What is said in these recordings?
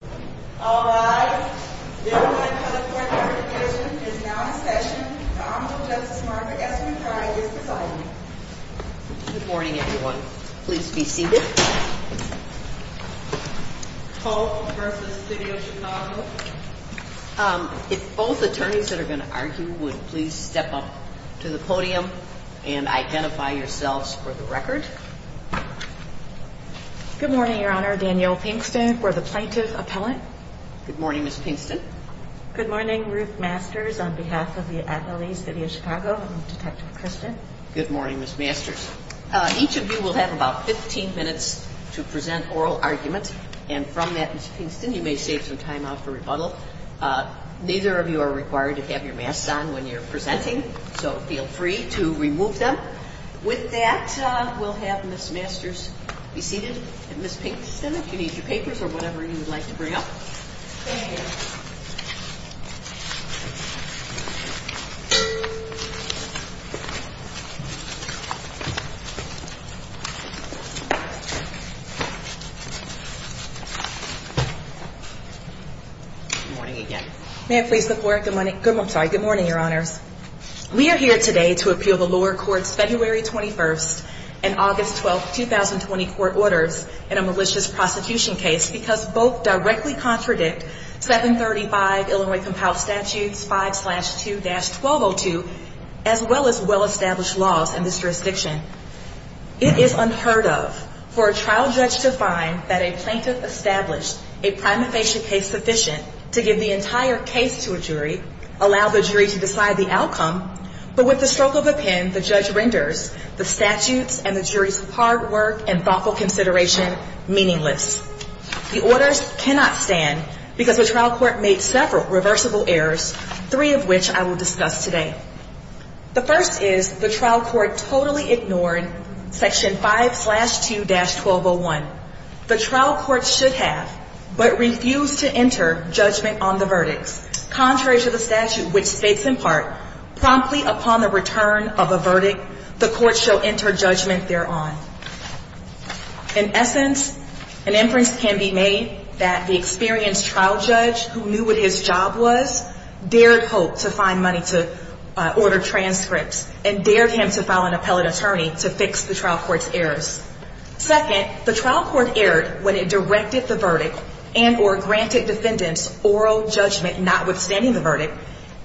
Good morning everyone. Please be seated. Holt v. City of Chicago If both attorneys that are going to argue would please step up to the podium and identify yourselves for the record. Good morning, Your Honor. Danielle Pinkston for the Plaintiff Appellant. Good morning, Ms. Pinkston. Good morning, Ruth Masters on behalf of the athlete, City of Chicago, and Detective Christian. Good morning, Ms. Masters. Each of you will have about 15 minutes to present oral arguments, and from that, Ms. Pinkston, you may save some time for rebuttal. Neither of you are required to have your masks on when you're presenting, so feel free to remove them. With that, we'll have Ms. Masters be seated, and Ms. Pinkston, if you need your paper or whatever you would like to bring up. Thank you. Good morning again. Good morning, Your Honor. We are here today to appeal the lower court's February 21st and August 12th, 2020 court orders in a malicious prosecution case because both directly contradict 735 Illinois Compiled Statutes 5-2-1202, as well as well-established laws in this jurisdiction. It is unheard of for a trial judge to find that a plaintiff established a time of patient case sufficient to give the entire case to a jury, allow the jury to decide the outcome, but with the stroke of a pen, the judge renders the statute and the jury's hard work and thoughtful consideration meaningless. The orders cannot stand because the trial court made several reversible errors, three of which I will discuss today. The first is the trial court totally ignored Section 5-2-1201. The trial court should have, but refused to enter, judgment on the verdict. Contrary to the statute, which states in part, promptly upon the return of a verdict, the court shall enter judgment thereon. In essence, an inference can be made that the experienced trial judge who knew what his job was dared hope to find money to order transcripts and dared him to file an appellate attorney to fix the trial court's errors. Second, the trial court erred when it directed the verdict and or granted defendants oral judgment notwithstanding the verdict.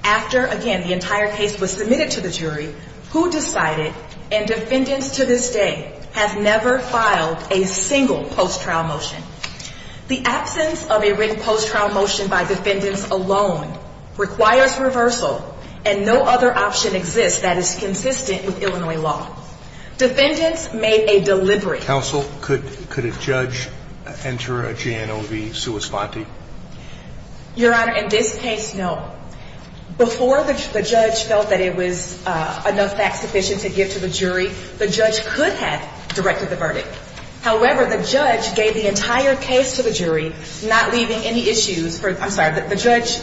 After, again, the entire case was submitted to the jury, who decided, and defendants to this day, have never filed a single post-trial motion? The absence of a written post-trial motion by defendants alone requires reversal, and no other option exists that is consistent with Illinois law. Defendants made a deliberate... Counsel, could a judge enter a J&OB sua sponte? Your Honor, in this case, no. Before which the judge felt that it was enough facts sufficient to get to the jury, the judge could have directed the verdict. However, the judge gave the entire case to the jury, not leaving any issues, I'm sorry, but the judge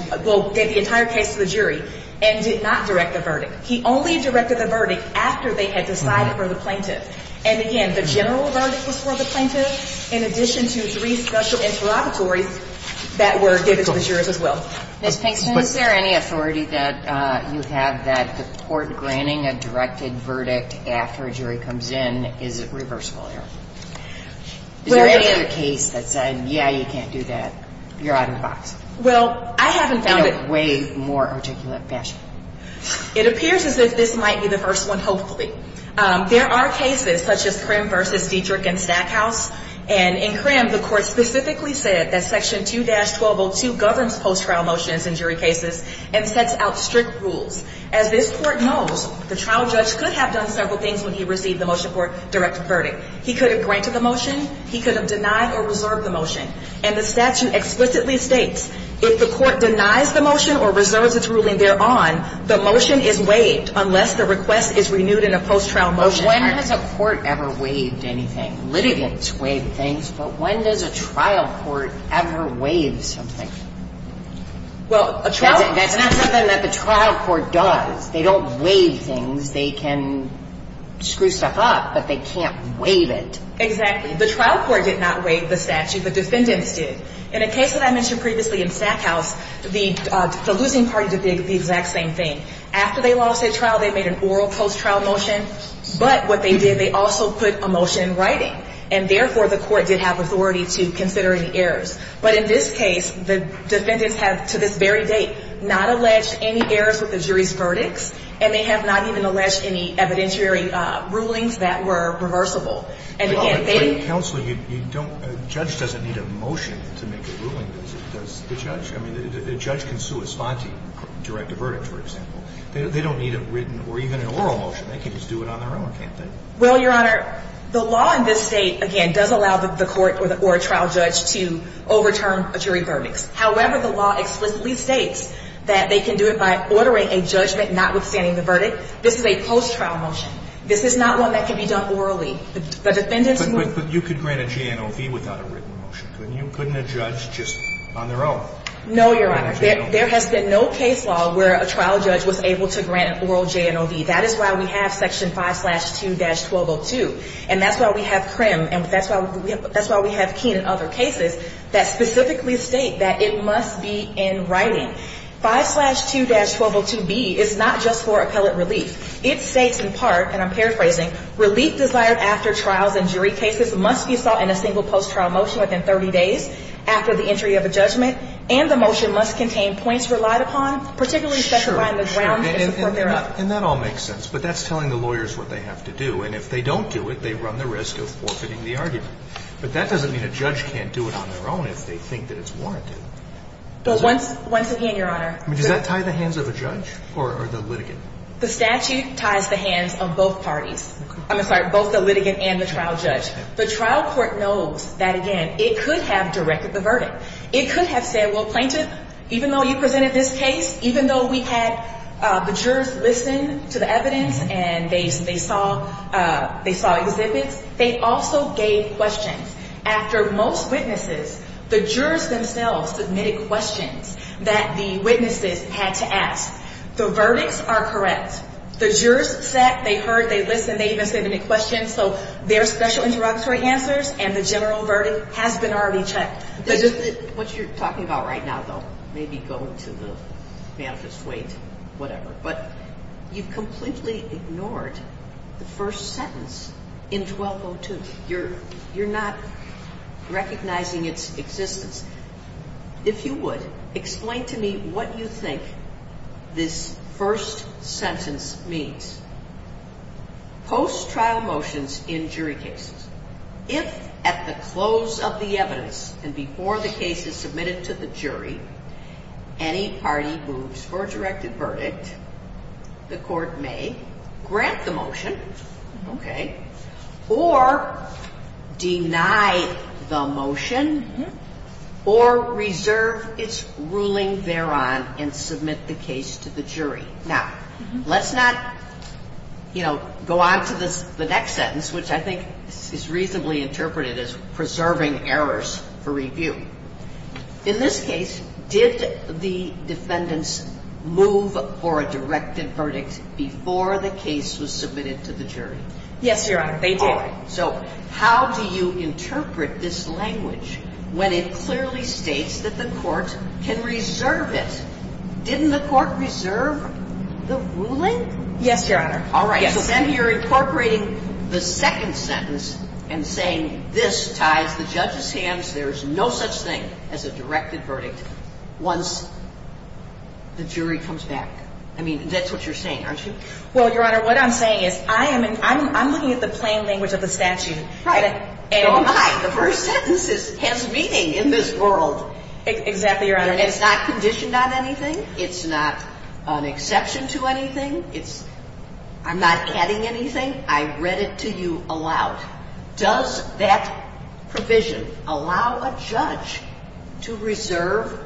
gave the entire case to the jury and did not direct the verdict. He only directed the verdict after they had decided for the plaintiff. And again, the general verdict was for the plaintiff, in addition to three special interrogatories that were given to the jurors as well. Ms. Hanks, is there any authority that you have that the court granting a directed verdict after a jury comes in is reversible here? Well... Is there any other case that said, yeah, you can't do that, you're out of the box? Well, I haven't found it... That is way more articulate than that. It appears as if this might be the first one, hopefully. There are cases such as Crim v. Dietrich and Stackhouse, and in Crim, the court specifically said that Section 2-1202 governs post-trial motions in jury cases and sets out strict rules. As this court knows, the trial judge could have done several things when he received the motion for a directed verdict. He could have granted the motion, he could have denied or reserved the motion. And the statute explicitly states, if the court denies the motion or reserves its ruling thereon, the motion is waived unless the request is renewed in a post-trial motion. But when has a court ever waived anything? Litigants waive things, but when does a trial court ever waive something? Well, that's not something that the trial court does. They don't waive things. They can screw stuff up, but they can't waive it. Exactly. The trial court did not waive the statute, the defendants did. In a case that I mentioned previously in Stackhouse, the losing party did the exact same thing. After they lost their trial, they made an oral post-trial motion, but what they did, they also put a motion in writing. And therefore, the court did have authority to consider any errors. But in this case, the defendants have, to this very date, not alleged any errors with the jury's verdict, and they have not even alleged any evidentiary rulings that were reversible. Counsel, a judge doesn't need a motion to make a ruling, does the judge? I mean, a judge can still respond to you and direct a verdict, for example. They don't need a written or even an oral motion. They can just do it on their own, can't they? Well, Your Honor, the law in this state, again, does allow the court or a trial judge to overturn a jury verdict. However, the law explicitly states that they can do it by ordering a judgment notwithstanding the verdict. This is a post-trial motion. This is not one that can be done orally. But you could grant a J&OB without a written motion, couldn't you? Couldn't a judge just on their own? No, Your Honor. There has been no case law where a trial judge was able to grant an oral J&OB. That is why we have Section 5-2-1202, and that's why we have Crim, and that's why we have Keene and other cases that specifically state that it must be in writing. 5-2-1202B is not just for appellate release. It states, in part, and I'm paraphrasing, release desired after trials and jury cases must be sought in a single post-trial motion within 30 days after the entry of a judgment, and the motion must contain points relied upon, particularly such as writing the grounds. And that all makes sense, but that's telling the lawyers what they have to do. And if they don't do it, they run the risk of forfeiting the argument. But that doesn't mean a judge can't do it on their own if they think that it's warranted. Once again, Your Honor. Does that tie the hands of a judge or the litigant? The statute ties the hands of both parties. I'm sorry, both the litigant and the trial judge. The trial court knows that, again, it could have directed the verdict. It could have said, well, plaintiffs, even though you presented this case, even though we had the jurors listen to the evidence and they saw it exist, they also gave questions. After most witnesses, the jurors themselves submitted questions that the witnesses had to ask. So, verdicts are correct. The jurors sat, they heard, they listened, they even submitted questions. So, there's special interrogatory answers, and the general verdict has been already checked. What you're talking about right now, though, may be going too little, may have dissuaded, whatever. But you've completely ignored the first sentence in 1202. You're not recognizing its existence. If you would, explain to me what you think this first sentence means. Post-trial motions in jury cases. If, at the close of the evidence and before the case is submitted to the jury, any party moves for a directed verdict, the court may grant the motion, okay, or deny the motion, or reserve its ruling thereon and submit the case to the jury. Now, let's not, you know, go on to the next sentence, which I think is reasonably interpreted as preserving errors for review. In this case, did the defendants move for a directed verdict before the case was submitted to the jury? Yes, Your Honor, they did. All right. So, how do you interpret this language when it clearly states that the court can reserve this? Didn't the court reserve the ruling? Yes, Your Honor. All right. So, then you're incorporating the second sentence and saying this ties to Justice Ham's, there is no such thing as a directed verdict once the jury comes back. I mean, that's what you're saying, aren't you? Well, Your Honor, what I'm saying is I'm looking at the plain language of the statute. Right. Oh, my, the first sentence is Ham's meeting in this world. Exactly, Your Honor. It's not conditioned on anything. It's not an exception to anything. I'm not adding anything. I read it to you aloud. Does that provision allow a judge to reserve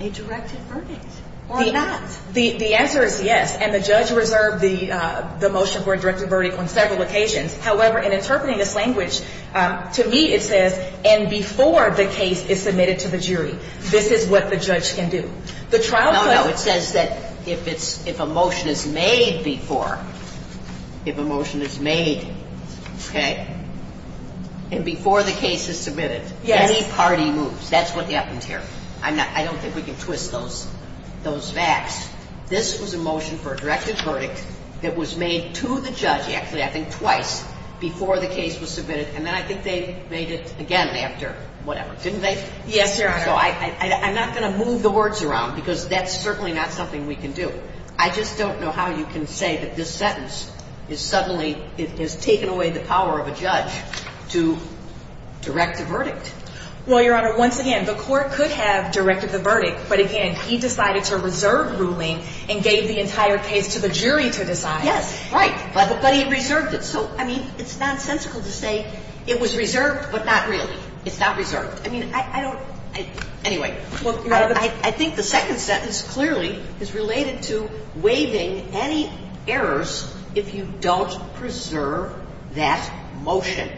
a directed verdict or not? The answer is yes, and the judge reserved the motion for a directed verdict on several occasions. However, in interpreting this language, to me it says, and before the case is submitted to the jury, this is what the judge can do. No, no, it says that if a motion is made before, if a motion is made, okay, and before the case is submitted, any party moves. That's what happens here. I don't think we can twist those facts. This was a motion for a directed verdict that was made to the judge, yes, I think twice, before the case was submitted, and then I think they made it again after, whatever. Didn't they? Yes, Your Honor. So I'm not going to move the words around because that's certainly not something we can do. I just don't know how you can say that this sentence has suddenly taken away the power of a judge to direct a verdict. Well, Your Honor, once again, the court could have directed the verdict, but again, he decided to reserve the ruling and gave the entire case to the jury for this action. Yes, right. But he reserved it. So, I mean, it's nonsensical to say it was reserved, but not really. It's not reserved. I mean, I don't, anyway. Well, Your Honor, I think the second sentence clearly is related to waiving any errors if you don't preserve that motion.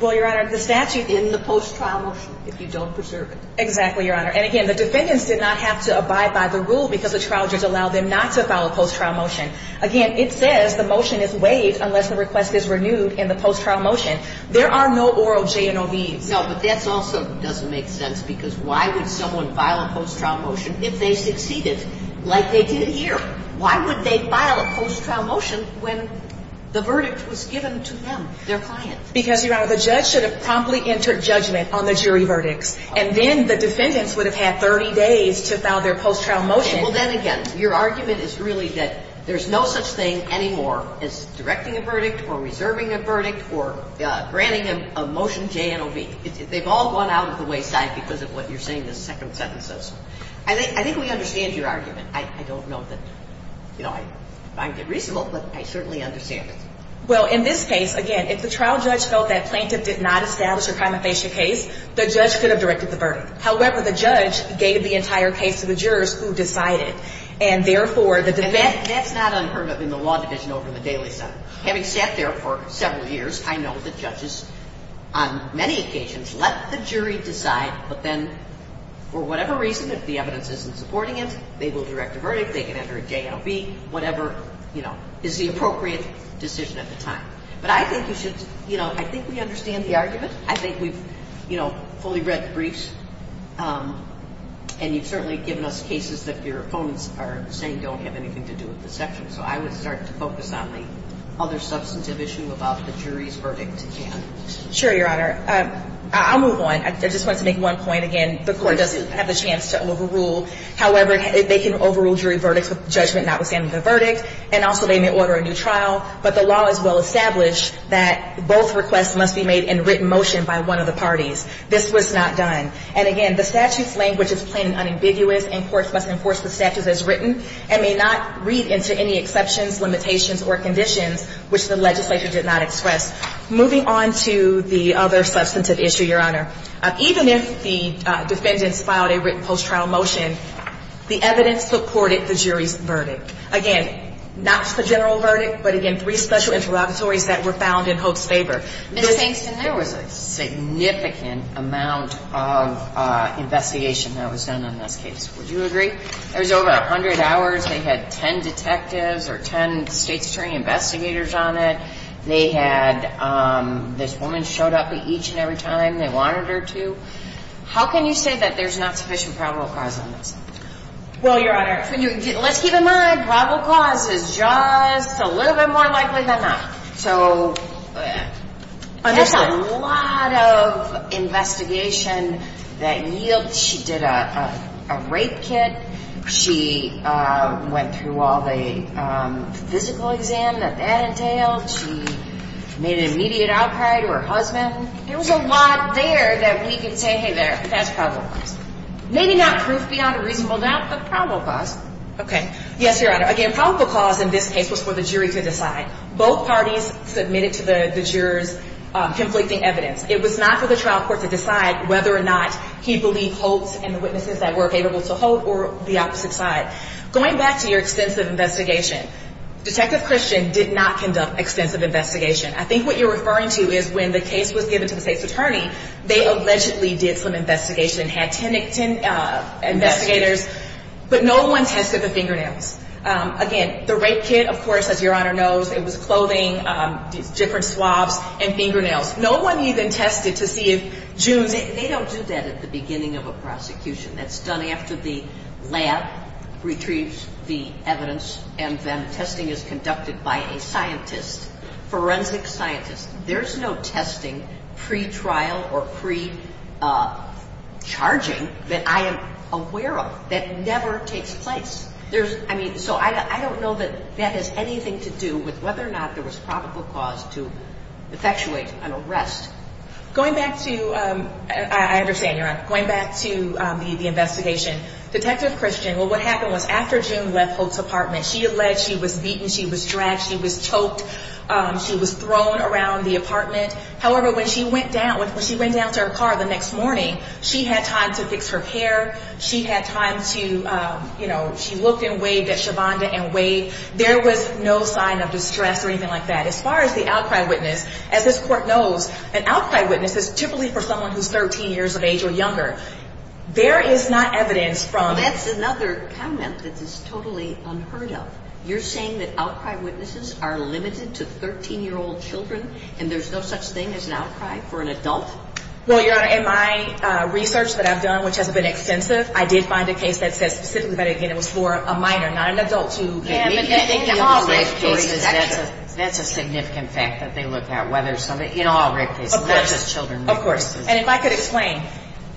Well, Your Honor, the statute is in the post-trial motion if you don't preserve it. Exactly, Your Honor. And again, the defendants did not have to abide by the rule because the trial judge allowed them not to file a post-trial motion. Again, it says the motion is waived unless the request is renewed in the post-trial motion. There are no oral J&OBs. No, but that also doesn't make sense because why would someone file a post-trial motion if they succeeded like they did here? Why would they file a post-trial motion when the verdict was given to them, their client? Because, Your Honor, the judge should have promptly entered judgment on the jury verdict. And then the defendants would have had 30 days to file their post-trial motion. Well, then again, your argument is really that there's no such thing anymore as directing a verdict or reserving a verdict or granting a motion J&OB. They've all gone out of the wayside because of what you're saying, this second sentence. I think we understand your argument. I don't know that, you know, I find it reasonable, but I certainly understand it. Well, in this case, again, if the trial judge felt that plaintiff did not establish a compensation case, the judge could have directed the verdict. However, the judge gave the entire case to the jurors who decided. And, therefore, the defendant- And that's not unheard of in the law division over the daily sentence. Having sat there for several years, I know that judges on many occasions let the jury decide, but then, for whatever reason, if the evidence isn't supporting it, they will direct the verdict, they can enter a J&OB, whatever, you know, is the appropriate decision at the time. But I think we should, you know, I think we understand the argument. I think we've, you know, fully read the briefs, and you've certainly given us cases that your opponents are saying don't have anything to do with the section. So I would start to focus on the other substantive issue about the jury's verdict again. Sure, Your Honor. I'll move on. I just want to make one point again. The court doesn't have a chance to overrule. However, they can overrule jury verdict judgment notwithstanding the verdict, and also they may order a new trial, but the law has well established that both requests must be made in written motion by one of the parties. This was not done. And, again, the statute's language is plain and unambiguous, and courts must enforce the statute as written and may not read into any exceptions, limitations, or conditions which the legislature did not express. Moving on to the other substantive issue, Your Honor. Even if the defendants filed a written post-trial motion, the evidence supported the jury's verdict. Again, not the general verdict, but, again, three special interrogatories that were found in Hope's favor. And I think there was a significant amount of investigation that was done on those cases. Would you agree? There was over 100 hours. They had 10 detectives or 10 state's jury investigators on it. They had this woman showed up at each and every time they wanted her to. How can you say that there's not sufficient probable cause on that? Well, Your Honor, let's keep in mind probable cause is just a little bit more likely than not. So there's a lot of investigation that yields. She did a rape kit. She went through all the physical exam that that entailed. She made an immediate outcry to her husband. There was a lot there that we can say, hey, that's probable. Maybe not proof beyond a reasonable doubt, but probable cause. Okay. Yes, Your Honor. Again, probable cause in this case was for the jury to decide. Both parties submitted to the jurors conflicting evidence. It was not for the trial court to decide whether or not he believed Hope and the witnesses that were available to Hope or the opposite side. Going back to your extensive investigation, Detective Christian did not conduct extensive investigation. I think what you're referring to is when the case was given to the state's attorney, they allegedly did some investigation, had 10 investigators, but no one tested the fingernails. Again, the rape kit, of course, as Your Honor knows, it was clothing, different swab, and fingernails. No one even tested to see if June... ...retrieves the evidence and then testing is conducted by a scientist, forensic scientist. There's no testing pre-trial or pre-charging that I am aware of that never takes place. There's, I mean, so I don't know that that has anything to do with whether or not there was probable cause to effectuate an arrest. Going back to...I understand, Your Honor. Going back to the investigation, Detective Christian, well, what happened was after June left Hope's apartment, she alleged she was beaten, she was dragged, she was choked, she was thrown around the apartment. However, when she went down, when she ran down to her car the next morning, she had time to fix her hair. She had time to, you know, she woke and waved at Shavonda and Wade. There was no sign of distress or anything like that. As far as the outcry witness, as this court knows, an outcry witness is typically for someone who's 13 years of age or younger. There is not evidence from... That's another comment that is totally unheard of. You're saying that outcry witnesses are limited to 13-year-old children and there's no such thing as an outcry for an adult? Well, Your Honor, in my research that I've done, which has been extensive, I did find a case that says it's for a minor, not an adult. That's a significant fact that they looked at. Of course. And if I could explain,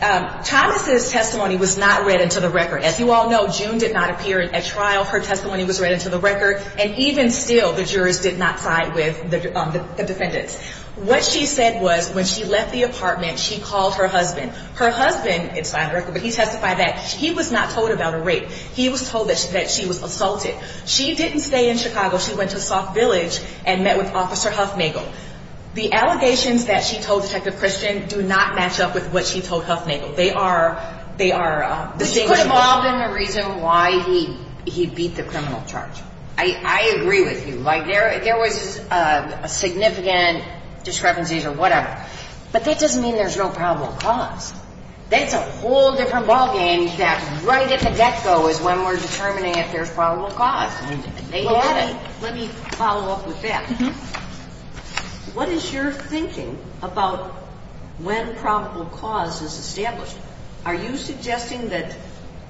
Thomas' testimony was not read into the record. As you all know, June did not appear at trial. Her testimony was read into the record, and even still, the jurors did not side with the defendants. What she said was when she left the apartment, she called her husband. Her husband, it's not a record, but he testified that he was not told about her rape. He was told that she was assaulted. She didn't stay in Chicago. She went to Soft Village and met with Officer Huffmagle. The allegations that she told Detective Christians do not match up with what she told Huffmagle. They are... But you called him the reason why he beat the criminal charge. I agree with you. There was a significant discrepancy or whatever, but that doesn't mean there's no probable cause. That's a whole different ballgame. Exactly. Right at the get-go is when we're determining if there's probable cause. Let me follow up with that. What is your thinking about when probable cause was established? Are you suggesting that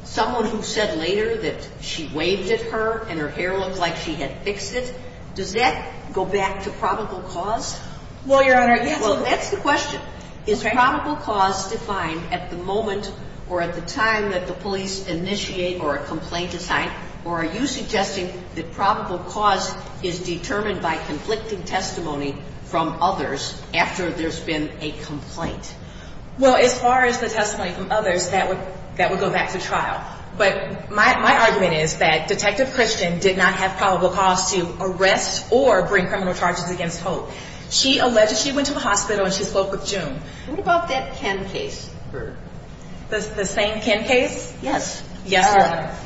someone who said later that she waved at her and her hair looked like she had fixed it, does that go back to probable cause? Well, Your Honor, that's the question. Is probable cause defined at the moment or at the time that the police initiate or a complaint is made, or are you suggesting that probable cause is determined by conflicting testimony from others after there's been a complaint? Well, as far as the testimony from others, that would go back to trial. But my argument is that Detective Christians did not have probable cause to arrest or bring criminal charges against Hope. She went to the hospital and she spoke with June. What about that 10 case? The same 10 case? Yes. Yes.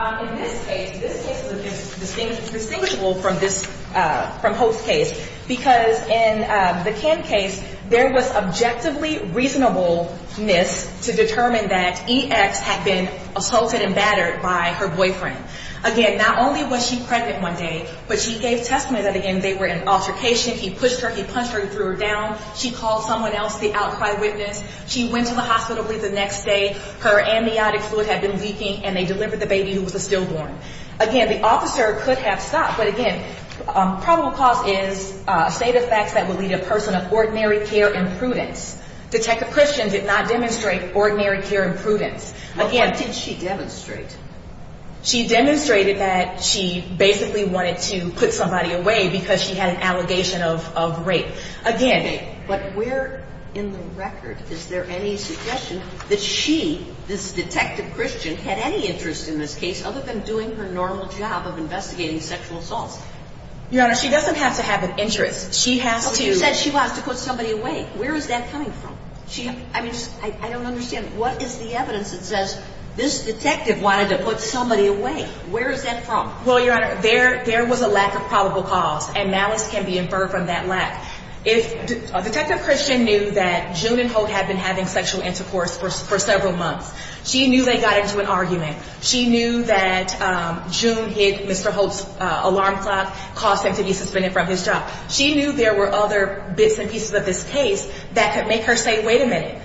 In this case, this case was distinguishable from Hope's case because in the 10 case, there was objectively reasonableness to determine that EX had been assaulted and battered by her boyfriend. Again, not only was she present one day, but she gave testimony that, again, they were in an altercation. He pushed her. He punched her and threw her down. She called someone else, the outside witness. She went to the hospital the next day. Her amniotic fluid had been leaking and they delivered the baby who was stillborn. Again, the officer could have stopped. But, again, probable cause is a state of fact that would be a person of ordinary care and prudence. Detective Christians did not demonstrate ordinary care and prudence. What did she demonstrate? She demonstrated that she basically wanted to put somebody away because she had an allegation of rape. But where in the record is there any suggestion that she, this Detective Christians, had any interest in this case other than doing her normal job of investigating sexual assault? Your Honor, she doesn't have to have an interest. She said she wants to put somebody away. Where is that coming from? I don't understand. What is the evidence that says this detective wanted to put somebody away? Where is that from? Well, Your Honor, there was a lack of probable cause, and malice can be inferred from that lack. Detective Christians knew that June and Holt had been having sexual intercourse for several months. She knew they got into an argument. She knew that June gave Mr. Holt's alarm clock cause for him to be suspended from his job. She knew there were other bits and pieces of this case that could make her say, wait a minute,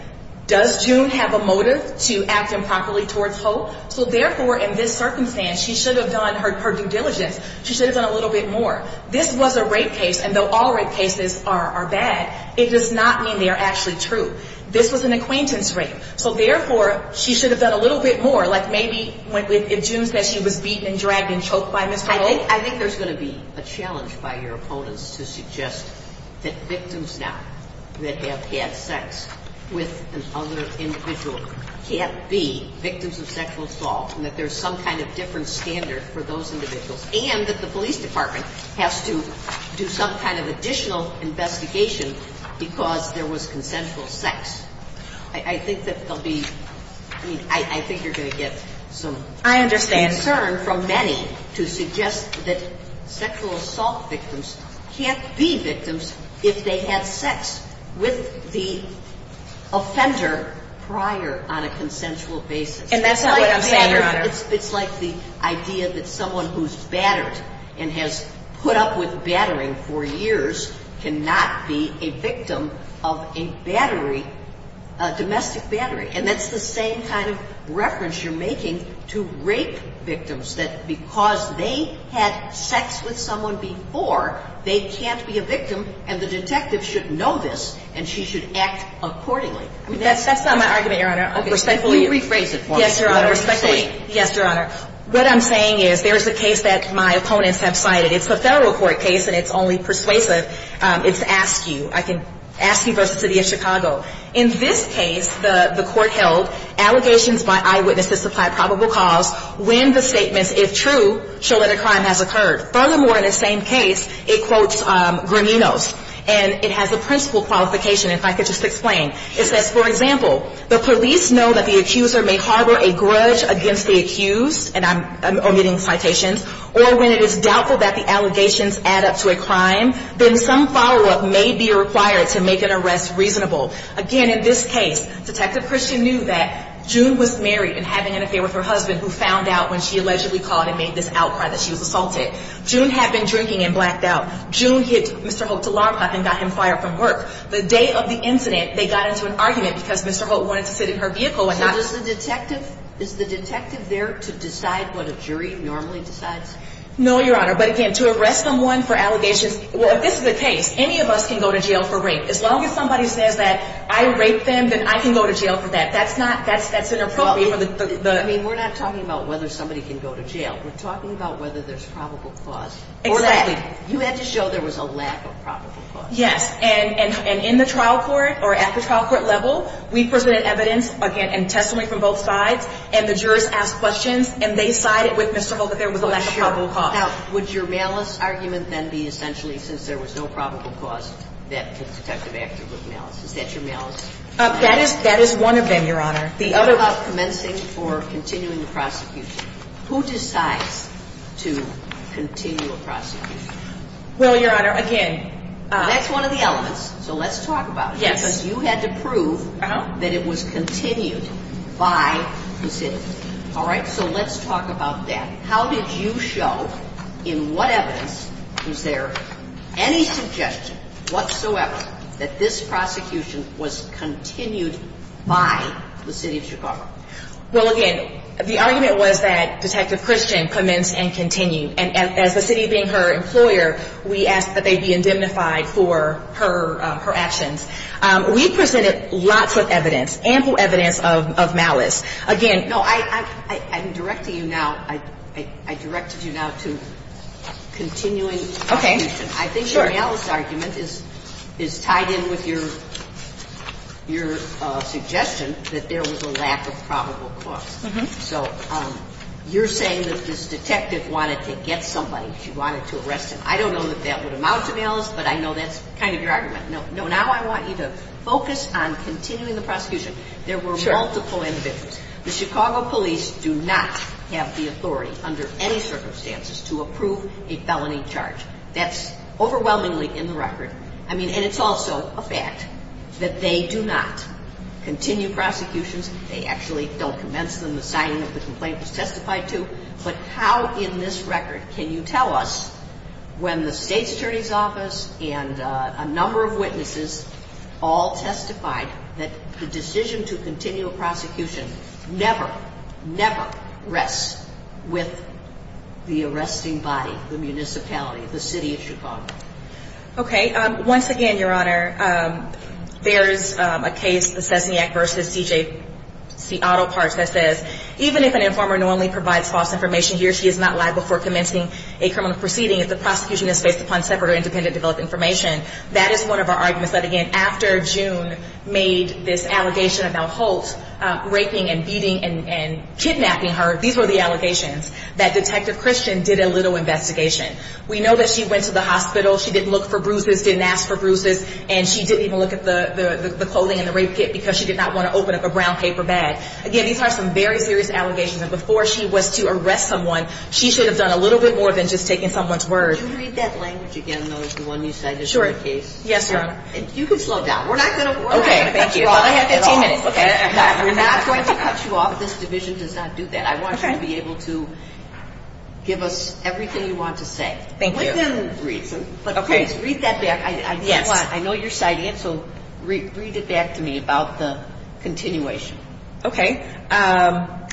does June have a motive to act improperly towards Holt? So therefore, in this circumstance, she should have done her due diligence. She should have done a little bit more. This was a rape case, and though all rape cases are bad, it does not mean they are actually true. This was an acquaintance rape. So therefore, she should have done a little bit more, like maybe if June said she was beaten and dragged and choked by Mr. Holt. I think there is going to be a challenge by your opponents to suggest that victims now that have had sex with other individuals can't be victims of sexual assault, and that there is some kind of different standard for those individuals, and that the police department has to do some kind of additional investigation because there was consensual sex. I think you are going to get some concern from many to suggest that sexual assault victims can't be victims if they have sex with the offender prior on a consensual basis. It's like the idea that someone who's battered and has put up with battering for years cannot be a victim of a domestic battery. And that's the same kind of reference you're making to rape victims, that because they had sex with someone before, they can't be a victim, and the detective should know this, and she should act accordingly. That's not my argument, Your Honor. I'll just say two or three phrases. Yes, Your Honor. What I'm saying is there's a case that my opponents have cited. It's a federal court case, and it's only persuasive. It's Askew. Askew v. City of Chicago. In this case, the court held, allegations by eyewitnesses supplied probable cause. When the statement is true, chilling a crime has occurred. Furthermore, in the same case, it quotes Grimino's, and it has a principle qualification. If I could just explain. It says, for example, the police know that the accuser may harbor a grudge against the accused, and I'm omitting citations, or when it is doubtful that the allegations add up to a crime, then some follow-up may be required to make an arrest reasonable. Again, in this case, Detective Christian knew that June was married and having an affair with her husband, who found out when she allegedly called and made this outcry that she was cultic. June had been drinking and blacked out. June hit Mr. Hoek's alarm clock and got him fired from work. The day of the incident, they got into an argument because Mr. Hoek wanted to sit in her vehicle. Is the detective there to decide what a jury normally decides? No, Your Honor. But again, to arrest someone for allegations, if this is the case, any of us can go to jail for rape. As long as somebody says that I raped them, then I can go to jail for that. That's not, that's inappropriate. I mean, we're not talking about whether somebody can go to jail. We're talking about whether there's probable cause. Exactly. You had to show there was a lack of probable cause. Yes, and in the trial court or at the trial court level, we present evidence, again, and testimony from both sides, and the jurors ask questions, and they side with Mr. Hoek that there was a lack of probable cause. Now, would your malice argument then be essentially, since there was no probable cause, that the detective actually was malicious? Is that your malice? That is one of them, Your Honor. The other one? Who decides to continue the prosecution? Well, Your Honor, again, that's one of the elements, so let's talk about it. Yes. Because you had to prove that it was continued by the city. All right? So let's talk about that. How did you show, in what evidence was there any suggestion whatsoever that this prosecution was continued by the city of Chicago? Well, again, the argument was that Detective Christian commenced and continued. And as the city being her employer, we asked that they be indemnified for her actions. We presented lots of evidence, ample evidence of malice. Again, no, I'm directing you now, I directed you now to continuing prosecution. Okay. I think your malice argument is tied in with your suggestion that there was a lack of probable cause. So you're saying that this detective wanted to get somebody, she wanted to arrest them. I don't know if that would amount to malice, but I know that's kind of your argument. No, now I want you to focus on continuing the prosecution. There were multiple evidence. The Chicago police do not have the authority under any circumstances to approve a felony charge. That's overwhelmingly in the record. I mean, and it's also a fact that they do not continue prosecutions. They actually don't commence them. The siting of the complaint is testified to. But how in this record can you tell us when the state attorney's office and a number of witnesses all testified that the decision to continue a prosecution never, never rests with the arresting body, the municipality, the city of Chicago? Okay. Once again, Your Honor, there's a case, the Sesniak v. C.J. Seattle part that says, even if an informer normally provides false information, he or she is not liable for commencing a criminal proceeding if the prosecution is based upon separate or independently developed information. That is one of our arguments that, again, after June made this allegation about Holt raping and beating and kidnapping her, these were the allegations, that Detective Christian did a little investigation. We know that she went to the hospital. She didn't look for bruises, didn't ask for bruises. And she didn't even look at the clothing and the race kit because she did not want to open up a brown paper bag. Again, these are some very serious allegations. And before she was to arrest someone, she should have done a little bit more than just taken someone's murder. Can you read that language again, though, if you want me to say it? Sure. Yes, ma'am. You can slow down. We're not going to cut you off. I have 15 minutes. We're not going to cut you off. This division does not do that. I want you to be able to give us everything you want to say. Thank you. Read that back. I know you're signing it, so read it back to me about the continuation. Okay.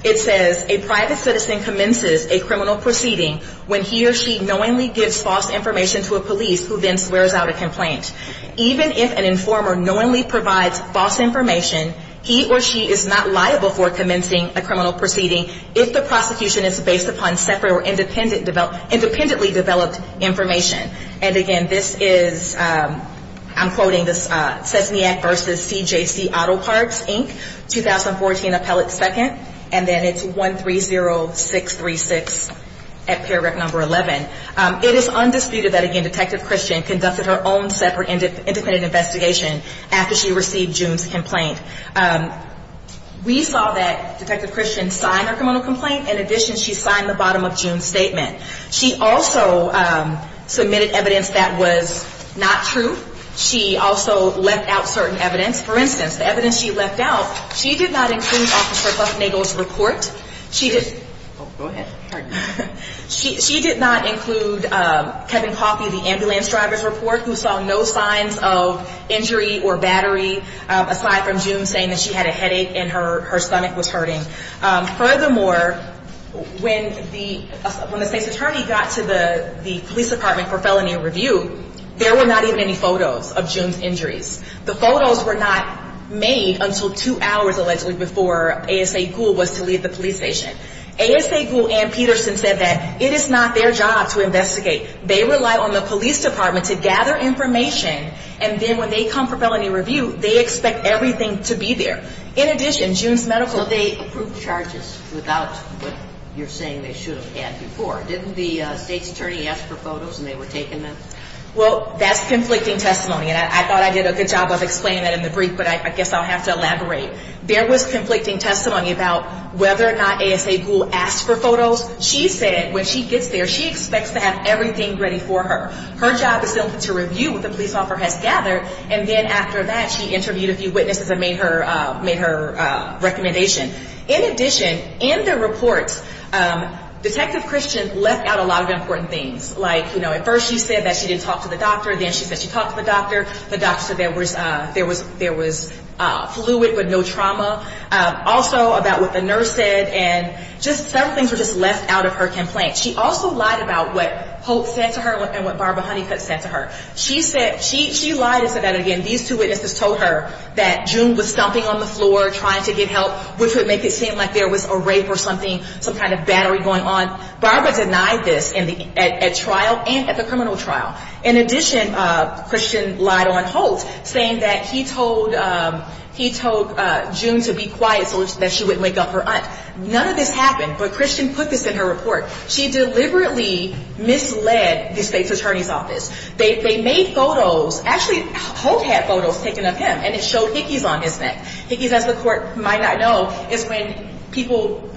It says, a private citizen commences a criminal proceeding when he or she knowingly gives false information to a police who then swears out a complaint. Even if an informer knowingly provides false information, he or she is not liable for commencing a criminal proceeding if the prosecution is based upon separate or independently developed information. And, again, this is, I'm quoting this, Cesniak v. CJC Auto Parts, Inc., 2014, Appellate 2nd, and then it's 130636 at Pararec Number 11. It is undisputed that, again, Detective Christian conducted her own separate and independent investigation after she received June's complaint. We saw that Detective Christian signed her criminal complaint. In addition, she signed the bottom of June's statement. She also submitted evidence that was not true. She also left out certain evidence. For instance, the evidence she left out, she did not include Officer Sussman's report. Go ahead. She did not include Kevin Coffey, the ambulance driver's report, who saw no signs of injury or battery aside from June saying that she had a headache and her stomach was hurting. Furthermore, when the defense attorney got to the police department for felony review, there were not even any photos of June's injuries. The photos were not made until two hours, allegedly, before ASA Gould was to leave the police station. ASA Gould and Peterson said that it is not their job to investigate. They rely on the police department to gather information, and then when they come for felony review, they expect everything to be there. In addition, June's medical state approved charges without what you're saying they should have had before. Didn't the state attorney ask for photos when they were taking them? Well, that's conflicting testimony, and I thought I did a good job of explaining that in the brief, but I guess I'll have to elaborate. There was conflicting testimony about whether or not ASA Gould asked for photos. She said when she gets there, she expects to have everything ready for her. Her job is simply to review what the police officer has gathered, and then after that, she interviewed a few witnesses and made her recommendation. In addition, in the report, Detective Christians left out a lot of important things, like, you know, at first she said that she didn't talk to the doctor, then she said she talked to the doctor, the doctor said there was fluid with no trauma, also about what the nurse said, and just several things were just left out of her complaint. She also lied about what Hope said to her and what Barbara Hunnicutt said to her. She lied about that again. These two witnesses told her that June was stomping on the floor trying to get help, which would make it seem like there was a rape or something, some kind of battery going on. Barbara denied this at trial and at the criminal trial. In addition, Christian lied on Hope, saying that he told June to be quiet so that she wouldn't wake up her eyes. None of this happened, but Christian put this in her report. She deliberately misled the state's attorney's office. They made photos, actually, Hope had photos taken of him, and it showed hickeys on his neck. Hickeys, as the court might not know, is when people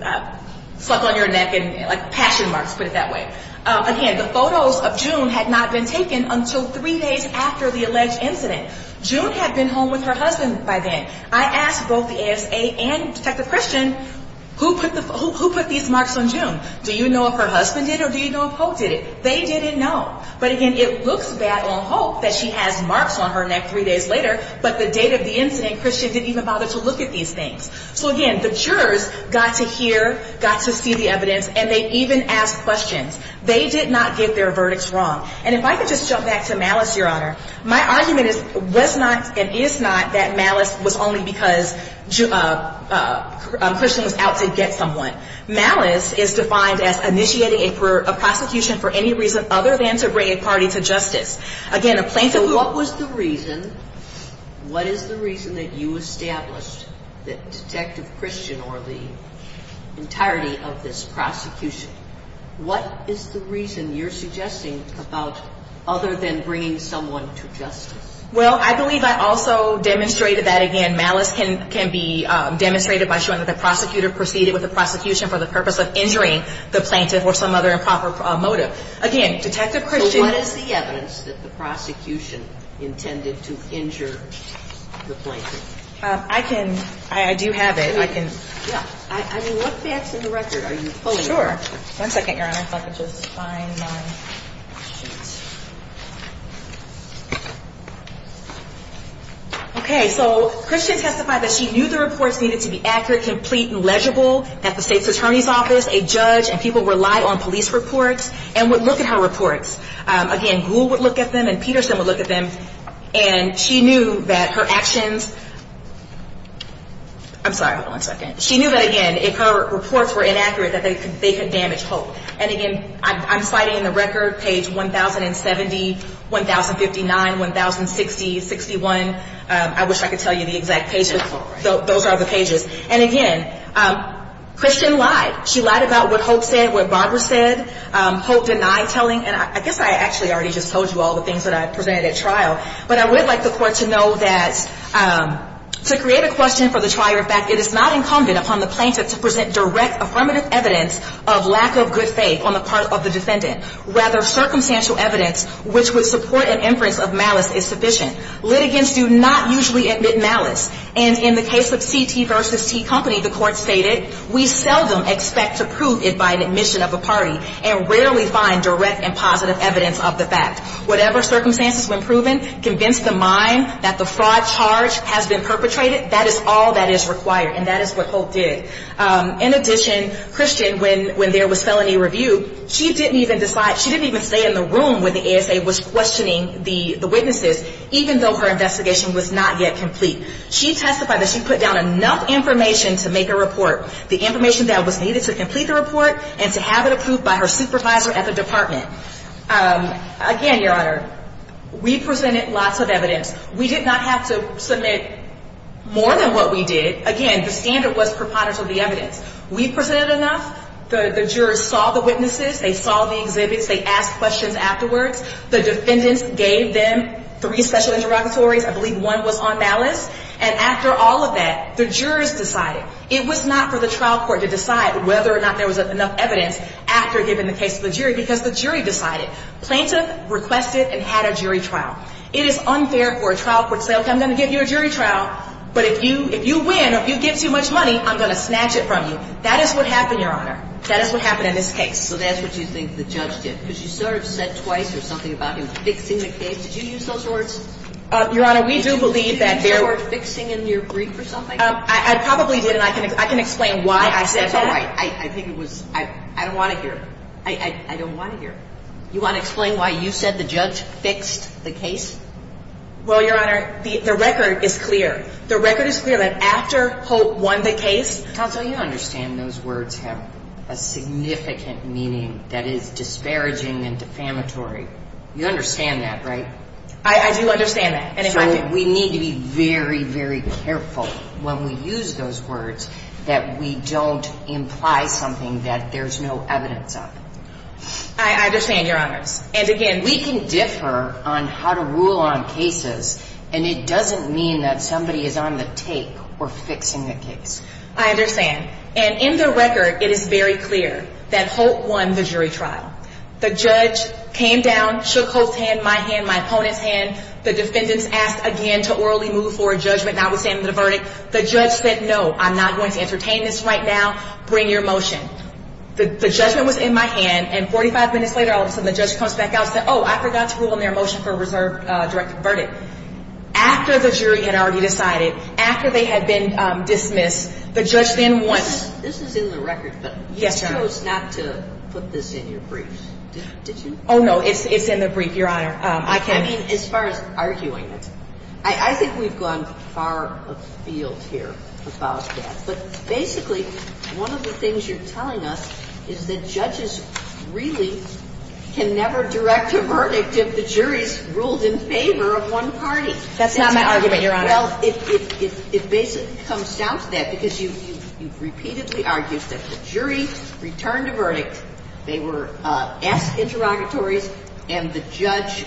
pluck on your neck and, like, passion marks, put it that way. Again, the photos of June had not been taken until three days after the alleged incident. June had been home with her husband by then. I asked both the ASA and Detective Christian, who put these marks on June? Do you know if her husband did or do you know if Hope did it? They didn't know. But, again, it looks bad on Hope that she has marks on her neck three days later, but the date of the incident Christian didn't even bother to look at these things. So, again, the jurors got to hear, got to see the evidence, and they even asked questions. They did not get their verdicts wrong. And if I could just jump back to malice, Your Honor, my argument is was not and is not that malice was only because Christian was out to get someone. Malice is defined as initiating a prosecution for any reason other than to bring a party to justice. Again, a plaintiff who… Detective Christian or the entirety of this prosecution, what is the reason you're suggesting about other than bringing someone to justice? Well, I believe I also demonstrated that, again, malice can be demonstrated by showing that the prosecutor proceeded with the prosecution for the purpose of injuring the plaintiff or some other improper motive. Again, Detective Christian… I can…I do have it. I can… Yeah. I mean, what's the actual record? Are you fully… Sure. One second, Your Honor. If I could just find my… Okay. So, Christian testified that she knew the reports needed to be accurate, complete, and legible at the state attorney's office. A judge and people relied on police reports and would look at her reports. Again, Gould would look at them and Peterson would look at them, and she knew that her actions… I'm sorry. Hold on a second. She knew that, again, if her reports were inaccurate, that they could damage Hope. And, again, I'm citing in the record page 1070, 1059, 1060, 61. I wish I could tell you the exact pages. Those are the pages. And, again, Christian lied. She lied about what Hope said, what Barbara said. Hope denied telling. And I guess I actually already just told you all the things that I presented at trial. But I would like the court to know that to create a question for the trial, in fact, it is not incumbent upon the plaintiff to present direct, affirmative evidence of lack of good faith on the part of the defendant. Rather, circumstantial evidence, which would support an inference of malice, is sufficient. Litigants do not usually admit malice. And in the case of CT versus T Company, the court stated, In addition, Christian, when there was felony review, she didn't even stay in the room when the ASA was questioning the witnesses, even though her investigation was not yet complete. She testified that she put down enough information to make a report, the information that was needed to complete the report and to have it approved by her supervisor at the department. Again, Your Honor, we presented lots of evidence. We did not have to submit more than what we did. Again, the standard was preponderance of the evidence. We presented enough. The jurors saw the witnesses. They saw the exhibits. They asked questions afterwards. The defendants gave them three special interrogatories. I believe one was on balance. And after all of that, the jurors decided. It was not for the trial court to decide whether or not there was enough evidence after giving the case to the jury, because the jury decided. Plaintiffs requested and had a jury trial. It is unfair for a trial court to say, okay, I'm going to give you a jury trial, but if you win, if you get too much money, I'm going to snatch it from you. That is what happened, Your Honor. That is what happened in this case. Well, that's what you think the judge did. Because you sort of said twice or something about him sticking the case. Did you use those words? Your Honor, we do believe that there were- Did you use the word fixing in your brief or something? I probably did, and I can explain why I said that. I think it was-I don't want to hear it. I don't want to hear it. You want to explain why you said the judge fixed the case? Well, Your Honor, the record is clear. The record is clear that after Hope won the case- Counsel, you understand those words have a significant meaning that is disparaging and defamatory. You understand that, right? I do understand that. So we need to be very, very careful when we use those words that we don't imply something that there's no evidence of. I understand, Your Honor. And, again, we can differ on how to rule on cases, and it doesn't mean that somebody is on the tape or fixing the case. I understand. And in the record, it is very clear that Hope won the jury trial. The judge came down, shook Hope's hand, my hand, my opponent's hand. The defendants asked, again, to orally move for a judgment notwithstanding the verdict. The judge said, no, I'm not going to entertain this right now. Bring your motion. The judgment was in my hand, and 45 minutes later, all of a sudden, the judge comes back out and said, oh, I forgot to rule on their motion for a reserved direct verdict. After the jury had already decided, after they had been dismissed, the judge then wanted- This is in the record, but- Yes, Your Honor. I chose not to put this in your briefs. Did you? Oh, no, it's in the brief, Your Honor. Okay. I mean, as far as arguing, I think we've gone far afield here with all of that. But, basically, one of the things you're telling us is that judges really can never direct a verdict if the jury is ruled in favor of one party. That's not my argument, Your Honor. Well, it basically comes down to that, because you've repeatedly argued that the jury returned a verdict. They were F interrogatory, and the judge,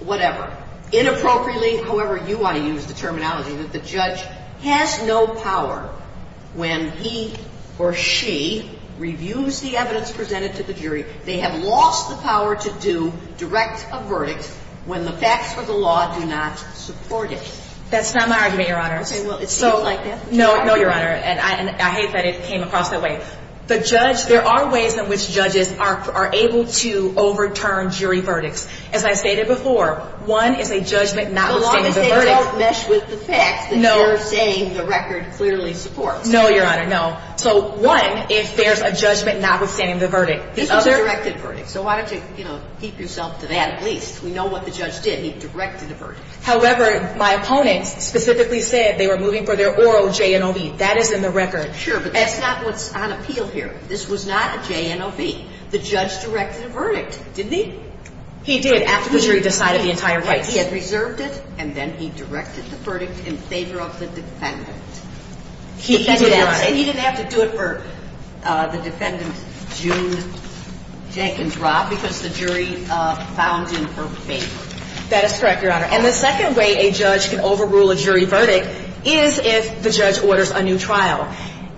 whatever, inappropriately, however you want to use the terminology, that the judge has no power when he or she reviews the evidence presented to the jury. They have lost the power to do direct a verdict when the facts of the law do not support it. That's not my argument, Your Honor. Okay, well, it's like this- No, no, Your Honor. And I hate that it came across that way. There are ways in which judges are able to overturn jury verdicts. As I stated before, one, if a judgment not withstands a verdict- The law does not mesh with the text. No. It's not saying the record clearly supports. So, one, if there's a judgment not withstanding a verdict. This is a directed verdict, so why don't you, you know, keep yourself to that at least. We know what the judge did. He directed the verdict. However, my opponent specifically said they were moving for their oral JNOB. That is in the record. Sure, but that's not what's on appeal here. This was not a JNOB. The judge directed a verdict, didn't he? He did. After the jury decided the entire way. He had reserved it, and then he directed the verdict in favor of the defendant. And he didn't have to do it for the defendant's June Jenkins Rob, because the jury filed it in her favor. That is correct, Your Honor. And the second way a judge can overrule a jury verdict is if the judge orders a new trial.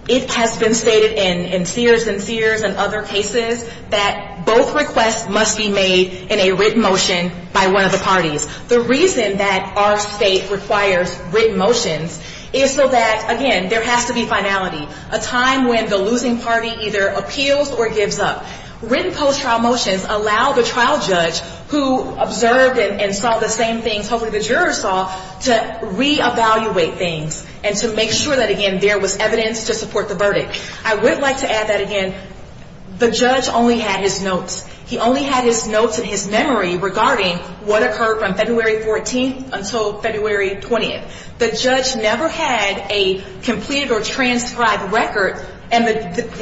It has been stated in Sears and Fears and other cases that both requests must be made in a written motion by one of the parties. The reason that our state requires written motions is so that, again, there has to be finality, a time when the losing party either appeals or gives up. Written post-trial motions allow the trial judge who observed and saw the same thing publicly the juror saw to reevaluate things and to make sure that, again, there was evidence to support the verdict. I would like to add that, again, the judge only had his notes. He only had his notes and his memory regarding what occurred from February 14th until February 20th. The judge never had a completed or transcribed record, and the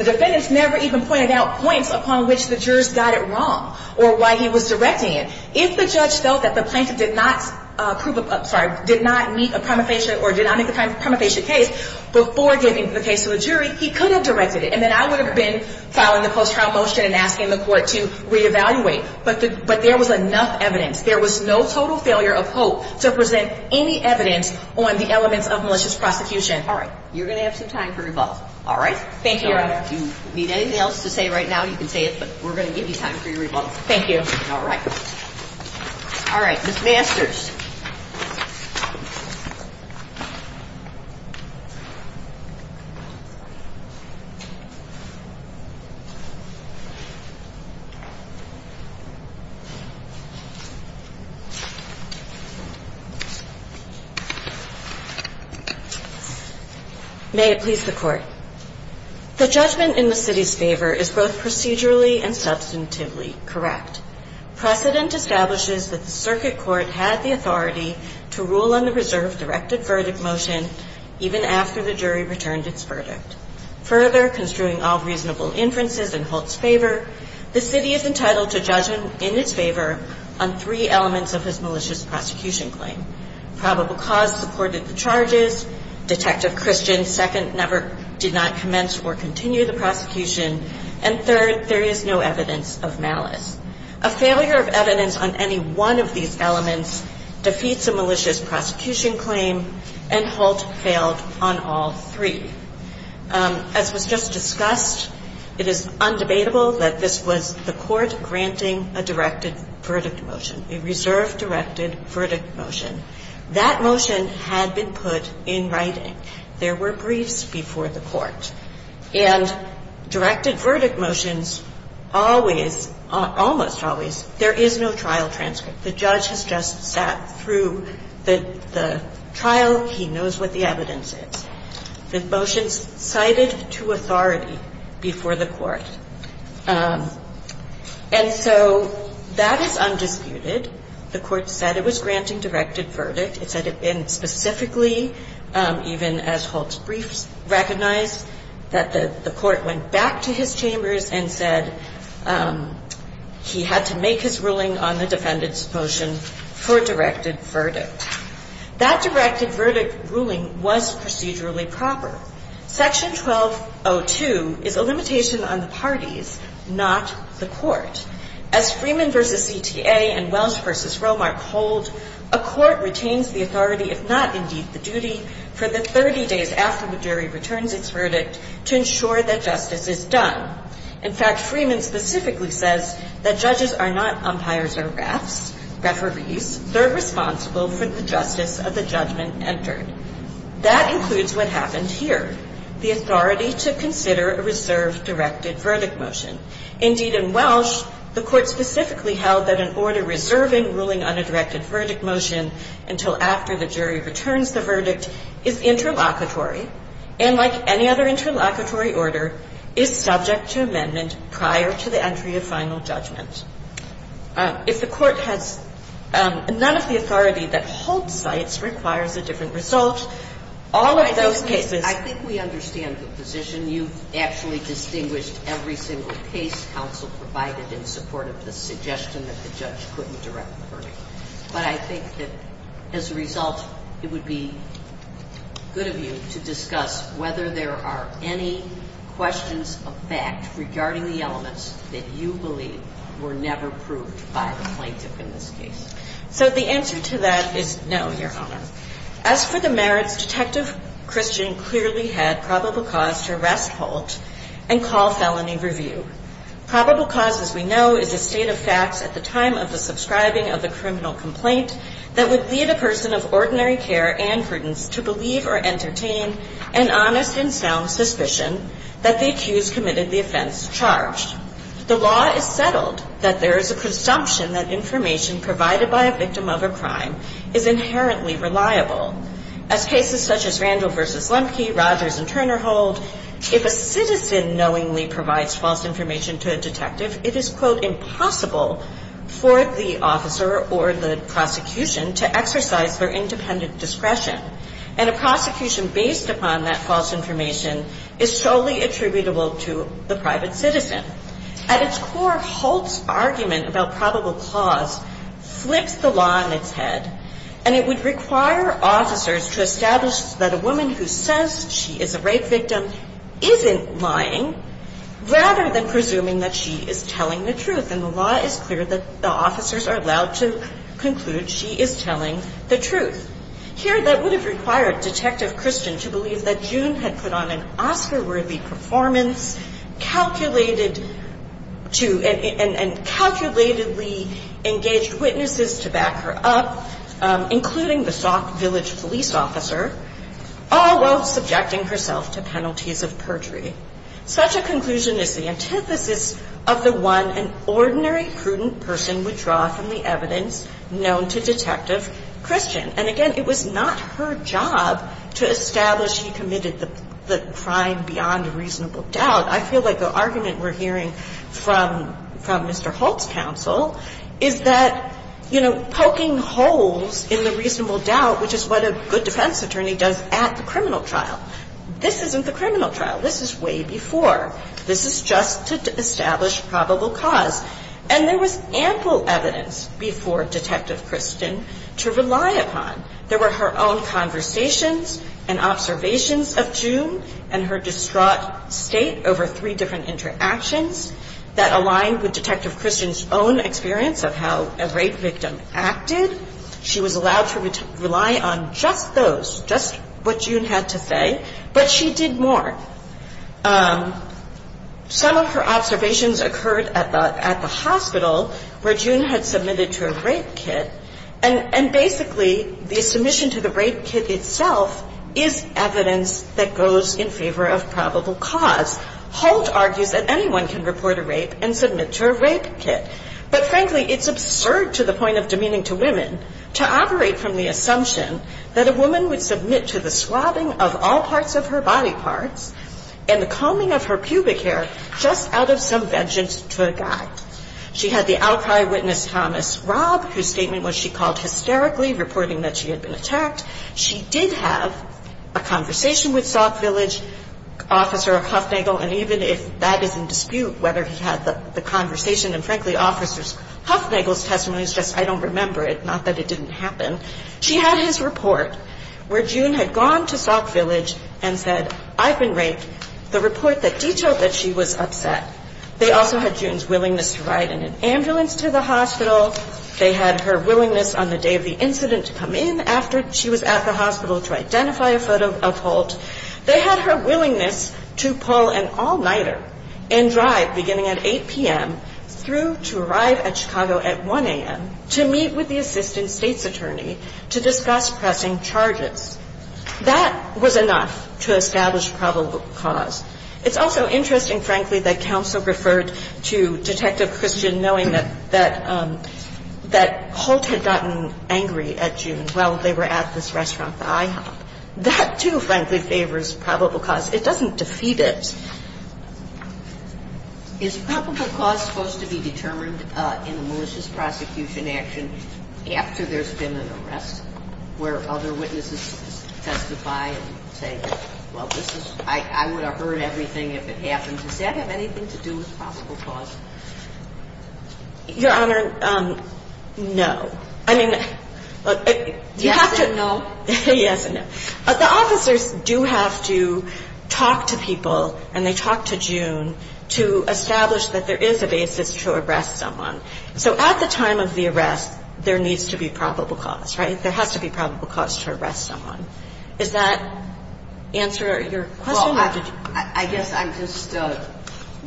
defendants never even pointed out points upon which the jurors got it wrong or why he was directing it. If the judge felt that the plaintiff did not meet the primitive case before giving the case to the jury, he could have directed it. And then I would have been following the post-trial motion and asking the court to reevaluate. But there was enough evidence. There was no total failure of hope to present any evidence on the elements of malicious prosecution. All right. You're going to have some time for rebuttal. All right. Thank you. If you need anything else to say right now, you can say it, but we're going to give you time for your rebuttal. Thank you. All right. All right. The answers. May it please the Court. The judgment in the city's favor is both procedurally and substantively correct. Precedent establishes that the circuit court had the authority to rule on the reserve's directed verdict motion even after the jury returned its verdict. Further, construing all reasonable inferences in Holt's favor, the city is entitled to judge him in its favor on three elements of his malicious prosecution claim. Probable cause supported the charges. Detective Christian, second, never did not commence or continue the prosecution. And third, there is no evidence of malice. A failure of evidence on any one of these elements defeats the malicious prosecution claim, and Holt failed on all three. As was just discussed, it is undebatable that this was the Court granting a directed verdict motion, a reserve directed verdict motion. That motion had been put in writing. There were briefs before the Court. And directed verdict motions always, almost always, there is no trial transcript. The judge has just sat through the trial. He knows what the evidence is. The motion cited to authority before the Court. And so, that is undisputed. The Court said it was granting directed verdict. It said it had been specifically, even as Holt's briefs recognized, that the Court went back to his chambers and said he had to make his ruling on the defendant's motion for directed verdict. That directed verdict ruling was procedurally proper. Section 1202 is a limitation on the parties, not the Court. As Freeman v. EPA and Welch v. Romark hold, a Court retains the authority, if not indeed the duty, for the 30 days after the jury returns its verdict to ensure that justice is done. In fact, Freeman specifically says that judges are not umpires or rats. Rats are refused. They are responsible for the justice of the judgment entered. That includes what happens here. The authority to consider a reserve directed verdict motion. Indeed, in Welch, the Court specifically held that an order reserved in ruling on a directed verdict motion until after the jury returns the verdict is interlocutory and, like any other interlocutory order, is subject to amendment prior to the entry of final judgment. If the Court has none of the authority that Holt cites requires a different result, all of those cases- The case counsel provided in support of the suggestion that the judge couldn't direct the verdict. But I think that as a result, it would be good of you to discuss whether there are any questions of fact regarding the elements that you believe were never proved by the plaintiff in this case. So the answer to that is no, Your Honor. As for the merits, Detective Christian clearly had probable cause to arrest Holt and call felony review. Probable cause, as we know, is a state of fact at the time of the subscribing of the criminal complaint that would lead a person of ordinary care and prudence to believe or entertain an honest and sound suspicion that the accused committed the offense charged. The law is settled that there is a presumption that information provided by a victim of a crime is inherently reliable. In cases such as Randall v. Lempke, Rogers v. Turner Holt, if a citizen knowingly provides false information to a detective, it is, quote, impossible for the officer or the prosecution to exercise their independent discretion. And a prosecution based upon that false information is solely attributable to the private citizen. At its core, Holt's argument about probable cause slips the law in its head. And it would require officers to establish that a woman who says she is a rape victim isn't lying, rather than presuming that she is telling the truth. And the law is clear that the officers are allowed to conclude she is telling the truth. Here, that would have required Detective Christian to believe that June had put on an Oscar-worthy performance and calculatedly engaged witnesses to back her up, including the soft-village police officer, all while subjecting herself to penalties of perjury. Such a conclusion is the antithesis of the one an ordinary, prudent person would draw from the evidence known to Detective Christian. And again, it was not her job to establish she committed the crime beyond a reasonable doubt. I feel like the argument we're hearing from Mr. Holt's counsel is that, you know, poking holes in the reasonable doubt, which is what a good defense attorney does at the criminal trial, this isn't the criminal trial. This is way before. This is just to establish probable cause. And there was ample evidence before Detective Christian to rely upon. There were her own conversations and observations of June and her distraught state over three different interactions that aligned with Detective Christian's own experience of how a rape victim acted. She was allowed to rely on just those, just what June had to say. But she did more. Some of her observations occurred at the hospital where June had submitted to a rape kit. And basically, the submission to the rape kit itself is evidence that goes in favor of probable cause. Holt argued that anyone can report a rape and submit to a rape kit. But frankly, it is absurd to the point of demeaning to women to operate from the assumption that a woman would submit to the swabbing of all parts of her body parts and the combing of her pubic hair just out of some vengeance toward God. She had the outside witness, Thomas Robb, whose statement was she called hysterically, reporting that she had been attacked. She did have a conversation with Soft Village, Officer Huffnagle. And even if that is in dispute, whether he had the conversation, and frankly, Officer Huffnagle's testimony is just, I don't remember it. It's not that it didn't happen. She had his report where June had gone to Soft Village and said, I've been raped. The report that detailed that she was upset. They also had June's willingness to ride in an ambulance to the hospital. They had her willingness on the day of the incident to come in after she was at the hospital to identify a photo of Holt. They had her willingness to pull an all-nighter and drive beginning at 8 p.m. through to arrive at Chicago at 1 a.m. to meet with the assistant state's attorney to dispatch pressing charges. That was enough to establish probable cause. It's also interesting, frankly, that counsel referred to Detective Christian knowing that Holt had gotten angry at June while they were at this restaurant. That too, frankly, favors probable cause. It doesn't defeat it. Is probable cause supposed to be determined in a malicious prosecution action after there's been an arrest where other witnesses testify and say, well, I would have heard everything if it happened? Does that have anything to do with probable cause? Your Honor, no. I mean, you have to know. Yes and no. The officers do have to talk to people and they talk to June to establish that there is a basis to arrest someone. So at the time of the arrest, there needs to be probable cause, right? There has to be probable cause to arrest someone. Does that answer your question?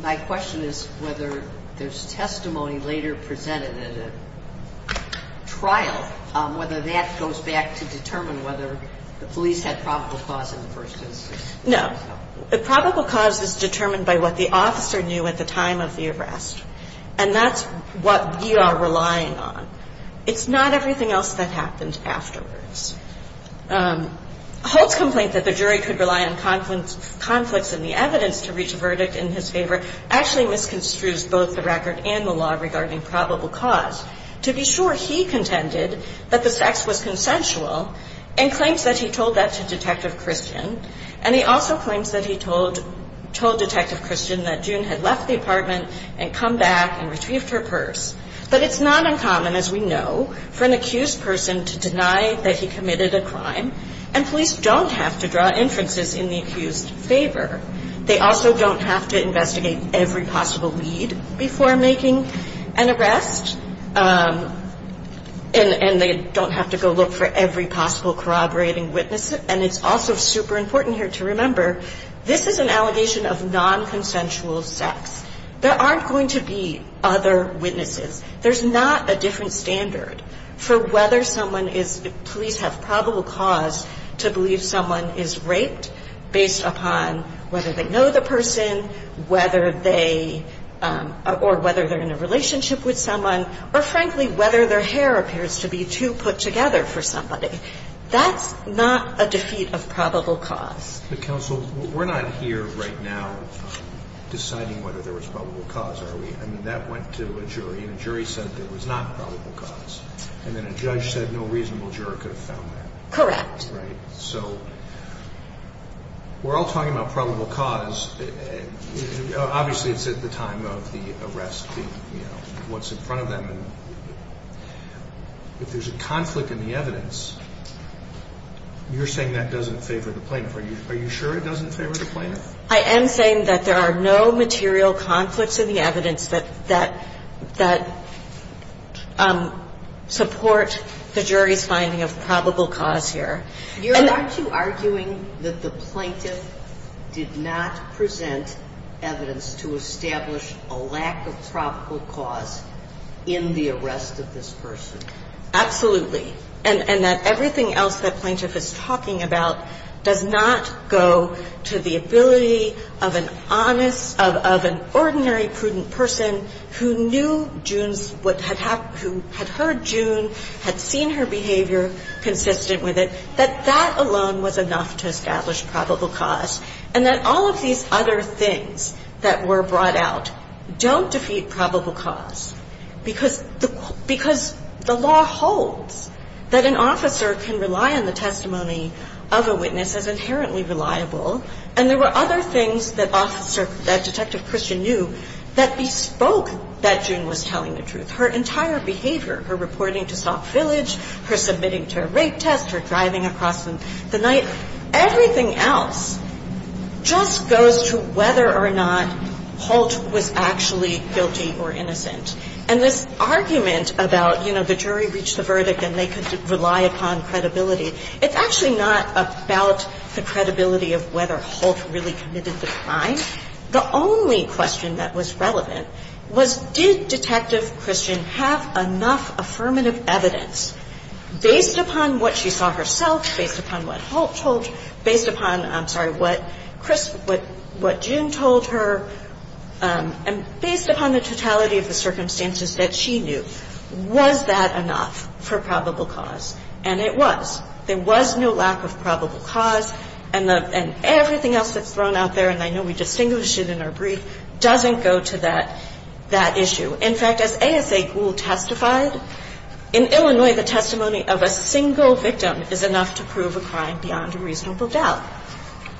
My question is whether there's testimony later presented in a trial on whether that goes back to determine whether the police had probable cause in the first instance. No. The probable cause is determined by what the officer knew at the time of the arrest. And that's what you are relying on. It's not everything else that happens afterwards. Hope's complaint that the jury could rely on conflicts in the evidence to reach a verdict in his favor actually misconstrues both the record and the law regarding probable cause. To be sure, he contended that the facts were consensual and claims that he told that to Detective Christian. And he also claims that he told Detective Christian that June had left the apartment and come back and retrieved her purse. But it's not uncommon, as we know, for an accused person to deny that he committed a crime. And police don't have to draw inferences in the accused's favor. They also don't have to investigate every possible lead before making an arrest. And they don't have to go look for every possible corroborating witness. And it's also super important here to remember, this is an allegation of non-consensual sex. There aren't going to be other witnesses. There's not a different standard for whether police have probable cause to believe someone is raped based upon whether they know the person, or whether they're in a relationship with someone, or frankly, whether their hair appears to be too put together for somebody. That's not a defeat of probable cause. The counsel, we're not here right now deciding whether there was probable cause, are we? I mean, that went to a jury, and a jury said there was not probable cause. And then a judge said no reasonable juror could have found that. Correct. Right. So, we're all talking about probable cause. Obviously, it's at the time of the arrest, what's in front of them. If there's a conflict in the evidence, you're saying that doesn't favor the plaintiff. Are you sure it doesn't favor the plaintiff? I am saying that there are no material conflicts in the evidence that support the jury's finding of probable cause here. And aren't you arguing that the plaintiff did not present evidence to establish a lack of probable cause in the arrest of this person? Absolutely. And that everything else that plaintiff is talking about does not go to the ability of an honest, of an ordinary prudent person who knew June's, who had heard June, had seen her behavior consistent with it, that that alone was enough to establish probable cause. And that all of these other things that were brought out don't defeat probable cause. Because the law holds that an officer can rely on the testimony of a witness as inherently reliable, and there were other things that Detective Christian knew that bespoke that June was telling the truth. Her entire behavior, her reporting to Soft Village, her submitting to a rape test, her driving across the night, everything else just goes to whether or not Holt was actually guilty or innocent. And this argument about, you know, the jury reached the verdict and they could rely upon credibility, it's actually not about the credibility of whether Holt really committed the crime. The only question that was relevant was, did Detective Christian have enough affirmative evidence, based upon what she saw herself, based upon what Holt told her, based upon, I'm sorry, what June told her, and based upon the totality of the circumstances that she knew, was that enough for probable cause? And it was. There was no lack of probable cause. And everything else that's thrown out there, and I know we distinguish it in our brief, doesn't go to that issue. In fact, as ASA Gould testified, in Illinois, the testimony of a single victim is enough to prove a crime beyond a reasonable doubt.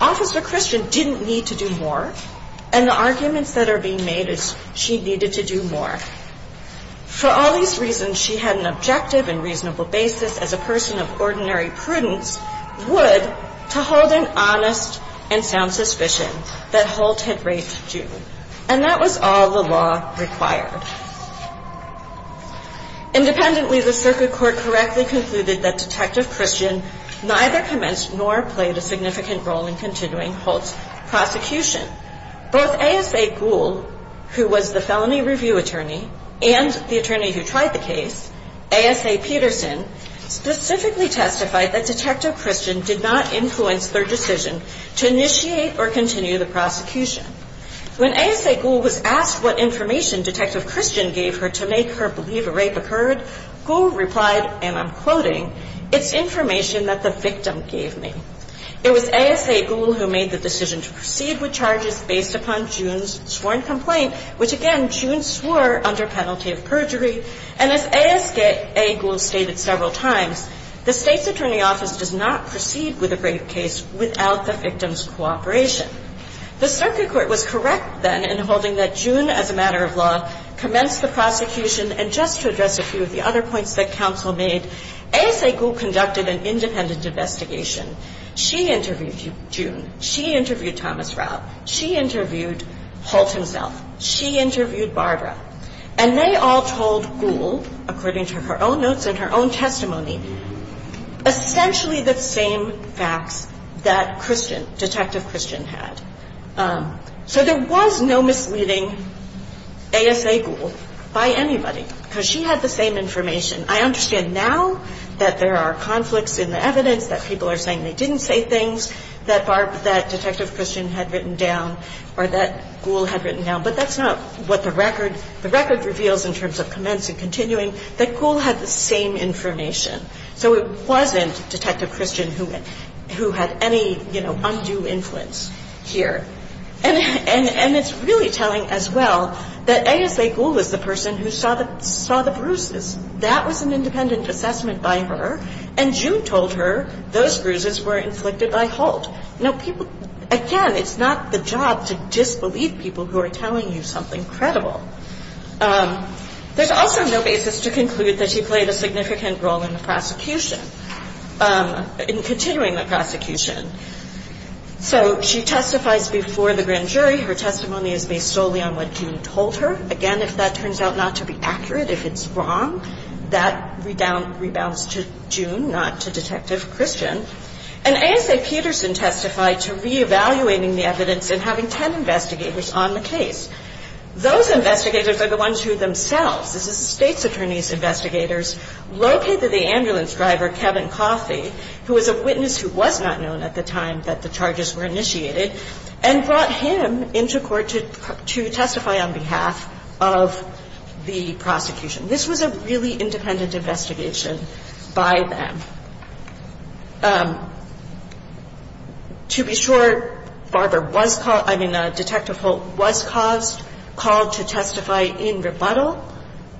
Officer Christian didn't need to do more, and the arguments that are being made is she needed to do more. For all these reasons, she had an objective and reasonable basis as a person of ordinary prudence would to hold an honest and sound suspicion that Holt had raped June. And that was all the law required. Independently, the circuit court correctly concluded that Detective Christian neither commenced nor played a significant role in continuing Holt's prosecution. Both ASA Gould, who was the felony review attorney, and the attorney who tried the case, ASA Peterson, specifically testified that Detective Christian did not influence their decision to initiate or continue the prosecution. When ASA Gould was asked what information Detective Christian gave her to make her believe a rape occurred, Gould replied, and I'm quoting, It's information that the victim gave me. It was ASA Gould who made the decision to proceed with charges based upon June's sworn complaint, which, again, June swore under penalty of perjury. And as ASA Gould stated several times, the state's attorney office does not proceed with a rape case without the victim's cooperation. The circuit court was correct, then, in holding that June, as a matter of law, commenced the prosecution. And just to address a few of the other points that counsel made, ASA Gould conducted an independent investigation. She interviewed June. She interviewed Thomas Ralph. She interviewed Holt himself. She interviewed Barbara. And they all told Gould, according to her own notes and her own testimony, essentially the same facts that Detective Christian had. So there was no misleading ASA Gould by anybody, because she had the same information. I understand now that there are conflicts in the evidence, that people are saying they didn't say things that Detective Christian had written down, or that Gould had written down, but that's not what the record reveals in terms of commence and continuing. That Gould had the same information. So it wasn't Detective Christian who had any, you know, undue influence here. And it's really telling, as well, that ASA Gould was the person who saw the bruises. That was an independent assessment by her, and June told her those bruises were inflicted by Holt. Again, it's not the job to disbelieve people who are telling you something credible. There's also no basis to conclude that he played a significant role in the prosecution, in continuing the prosecution. So she testifies before the grand jury. Her testimony is based solely on what June told her. Again, if that turns out not to be accurate, if it's wrong, that rebounds to June, not to Detective Christian. And ASA Peterson testified to re-evaluating the evidence and having 10 investigators on the case. Those investigators are the ones who themselves, this is the state's attorney's investigators, located the ambulance driver, Kevin Cossey, who was a witness who was not known at the time that the charges were initiated, and brought him into court to testify on behalf of the prosecution. This was a really independent investigation by them. To be sure, Detective Holt was called to testify in rebuttal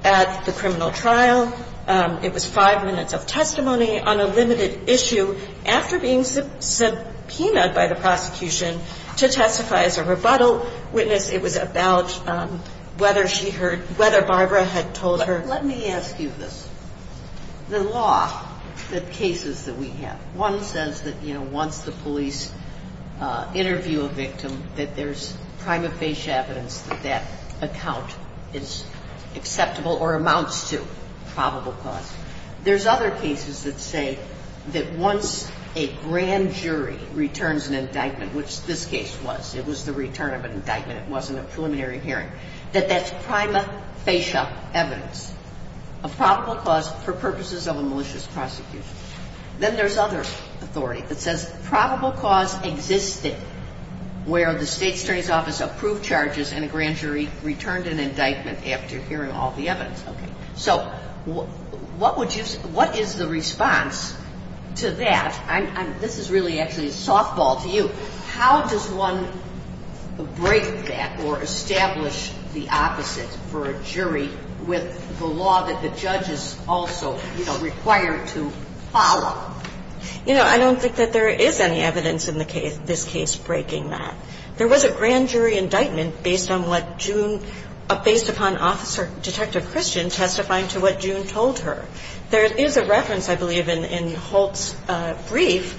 at the criminal trial. It was five minutes of testimony on a limited issue after being subpoenaed by the prosecution to testify as a rebuttal witness. It was about whether Barbara had told her... Let me ask you this. The law, the cases that we have, one says that once the police interview a victim, that there's prima facie evidence that that account is acceptable or amounts to probable cause. There's other cases that say that once a grand jury returns an indictment, which this case was, it was the return of an indictment, it wasn't a preliminary hearing, that that's prima facie evidence of probable cause for purposes of a malicious prosecution. Then there's other authority that says probable cause existed where the state attorney's office approved charges and a grand jury returned an indictment after hearing all the evidence. So, what is the response to that? This is really actually a softball to you. How does one break that or establish the opposite for a jury with the law that the judge is also required to follow? You know, I don't think that there is any evidence in this case breaking that. There was a grand jury indictment based on what June... based upon Officer Detective Christian testifying to what June told her. There is a reference, I believe, in Holt's brief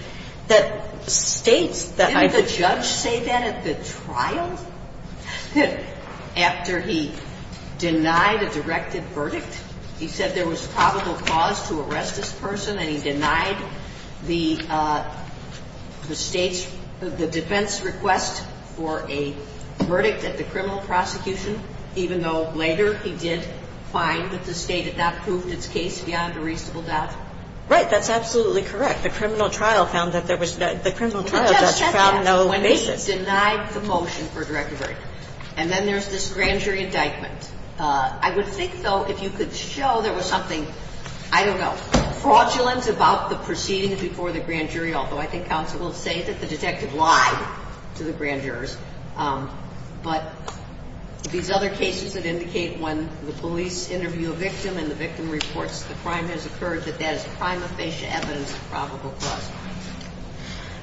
that states that... Didn't the judge say that at the trial? After he denied the directed verdict? He said there was probable cause to arrest this person and he denied the state... the defense request for a verdict at the criminal prosecution, even though later he did find that the state had not proved its case beyond a reasonable doubt? Right, that's absolutely correct. The criminal trial found that there was... The criminal trial just found no basis. When he denied the motion for a directed verdict. And then there's this grand jury indictment. I would think, though, if you could show there was something, I don't know, fraudulent about the proceedings before the grand jury also. I think counsel will say that the detective lied to the grand jurors. But these other cases would indicate when the police interview a victim and the victim reports that the crime has occurred, that that is prima facie evidence of probable cause.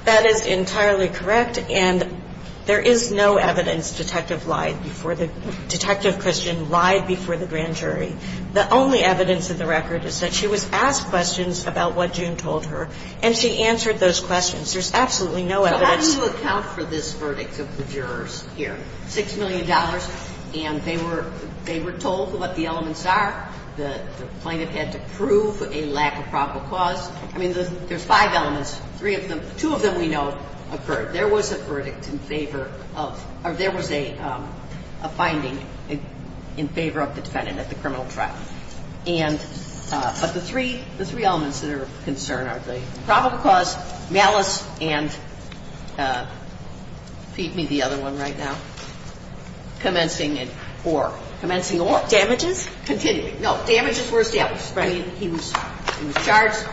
That is entirely correct. And there is no evidence detective lied before the... Detective Christian lied before the grand jury. The only evidence in the record is that she was asked questions about what June told her and she answered those questions. There's absolutely no evidence... How do you account for this verdict of the jurors here? Six million dollars and they were told what the elements are. The plaintiff had to prove a lack of probable cause. I mean, there's five elements. Two of them we know occurred. There was a verdict in favor of... Or there was a finding in favor of the Senate at the criminal trial. And... But the three elements that are of concern are the probable cause, malice, and... Feed me the other one right now. Commencing in four. Commencing in four. Damages? Continued. No, damages were... He was charged.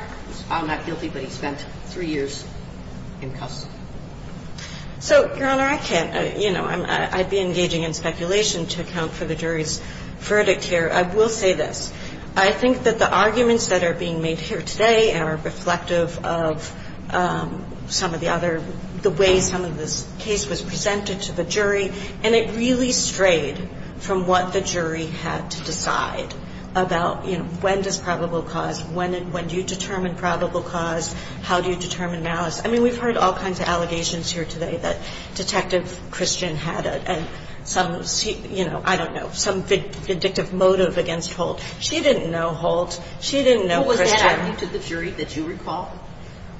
I don't know how many people he spent three years in custody. So, Your Honor, I can't... You know, I'd be engaging in speculation to account for the jury's verdict here. I will say this. I think that the arguments that are being made here today are reflective of some of the other... The way some of this case was presented to the jury. And it really strayed from what the jury had to decide about, you know, when does probable cause... When do you determine probable cause? How do you determine malice? I mean, we've heard all kinds of allegations here today that Detective Christian had a... She didn't know Holtz. She didn't know Christian. It wasn't to the jury that you recall?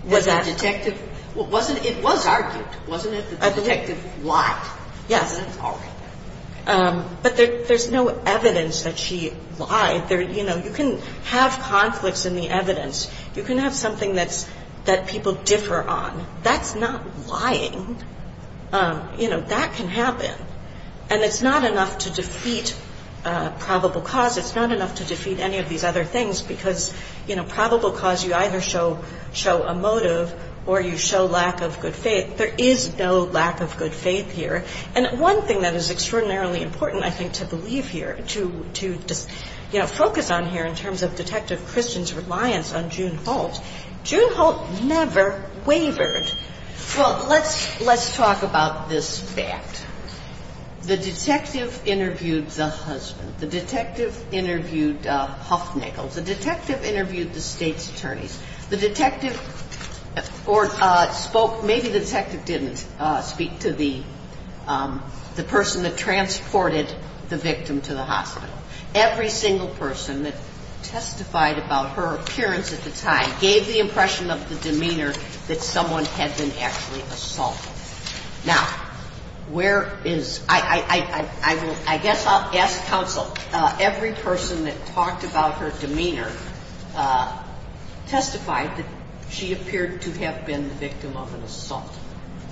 It was argued. It wasn't as if the detective lied. Yeah. But there's no evidence that she lied. You know, you can have conflicts in the evidence. You can have something that people differ on. That's not lying. You know, that can happen. And it's not enough to defeat probable cause. It's not enough to defeat any of these other things because, you know, probable cause, you either show a motive or you show lack of good faith. There is no lack of good faith here. And one thing that is extraordinarily important, I think, to believe here, to, you know, focus on here in terms of Detective Christian's reliance on June Holtz. June Holtz never wavered. Well, let's talk about this fact. The detective interviewed the husband. The detective interviewed Huffnagle. The detective interviewed the state's attorneys. The detective spoke, maybe the detective didn't speak to the person that transported the victim to the hospital. Every single person that testified about her appearance at the time gave the impression of the demeanor that someone had been actually assaulted. Now, where is-I guess I'll ask counsel. Every person that talked about her demeanor testified that she appeared to have been the victim of an assault.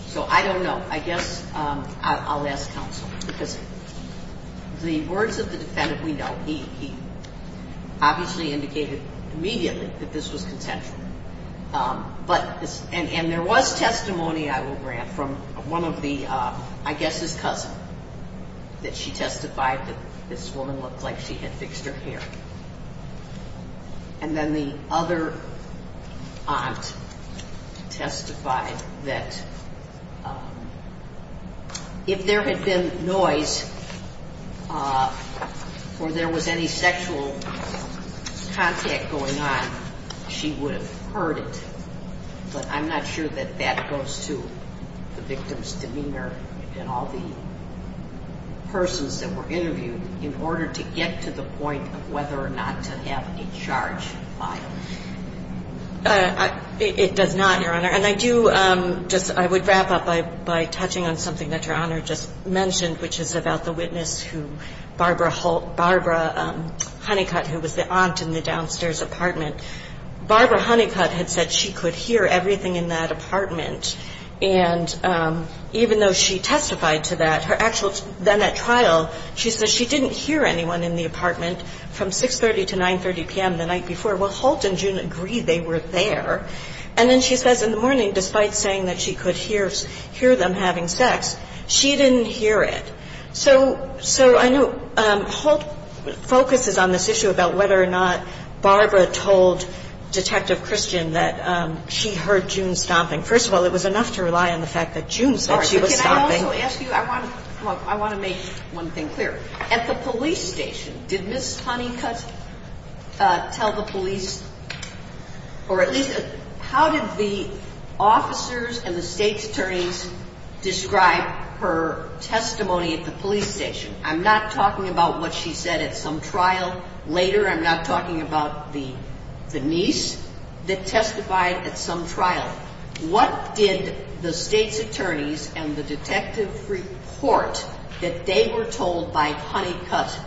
So, I don't know. I guess I'll ask counsel. The words of the defendant we know. He obviously indicated immediately that this was intentional. But-and there was testimony, I will grant, from one of the-I guess his cousin, that she testified that this woman looked like she had fixed her hair. And then the other aunt testified that if there had been noise or there was any sexual contact going on, she would have heard it. But I'm not sure that that goes to the victim's demeanor and all the persons that were interviewed in order to get to the point of whether or not to have a charge filed. It does not, Your Honor. And I do just-I would wrap up by touching on something that Your Honor just mentioned, which is about the witness who Barbara Honeycutt, who was the aunt in the downstairs apartment. Barbara Honeycutt had said she could hear everything in that apartment. And even though she testified to that, her actual then at trial, she said she didn't hear anyone in the apartment from 6.30 to 9.30 p.m. the night before. Well, Holt and June agreed they were there. And then she said in the morning, despite saying that she could hear them having sex, she didn't hear it. So, I know Holt focuses on this issue about whether or not Barbara told Detective Christian that she heard June stomping. First of all, it was enough to rely on the fact that June thought she was stomping. I want to make one thing clear. At the police station, did Ms. Honeycutt tell the police, or at least how did the officers and the state attorneys describe her testimony at the police station? I'm not talking about what she said at some trial later. I'm not talking about the niece that testified at some trial. What did the state attorneys and the detective report that they were told by Honeycutt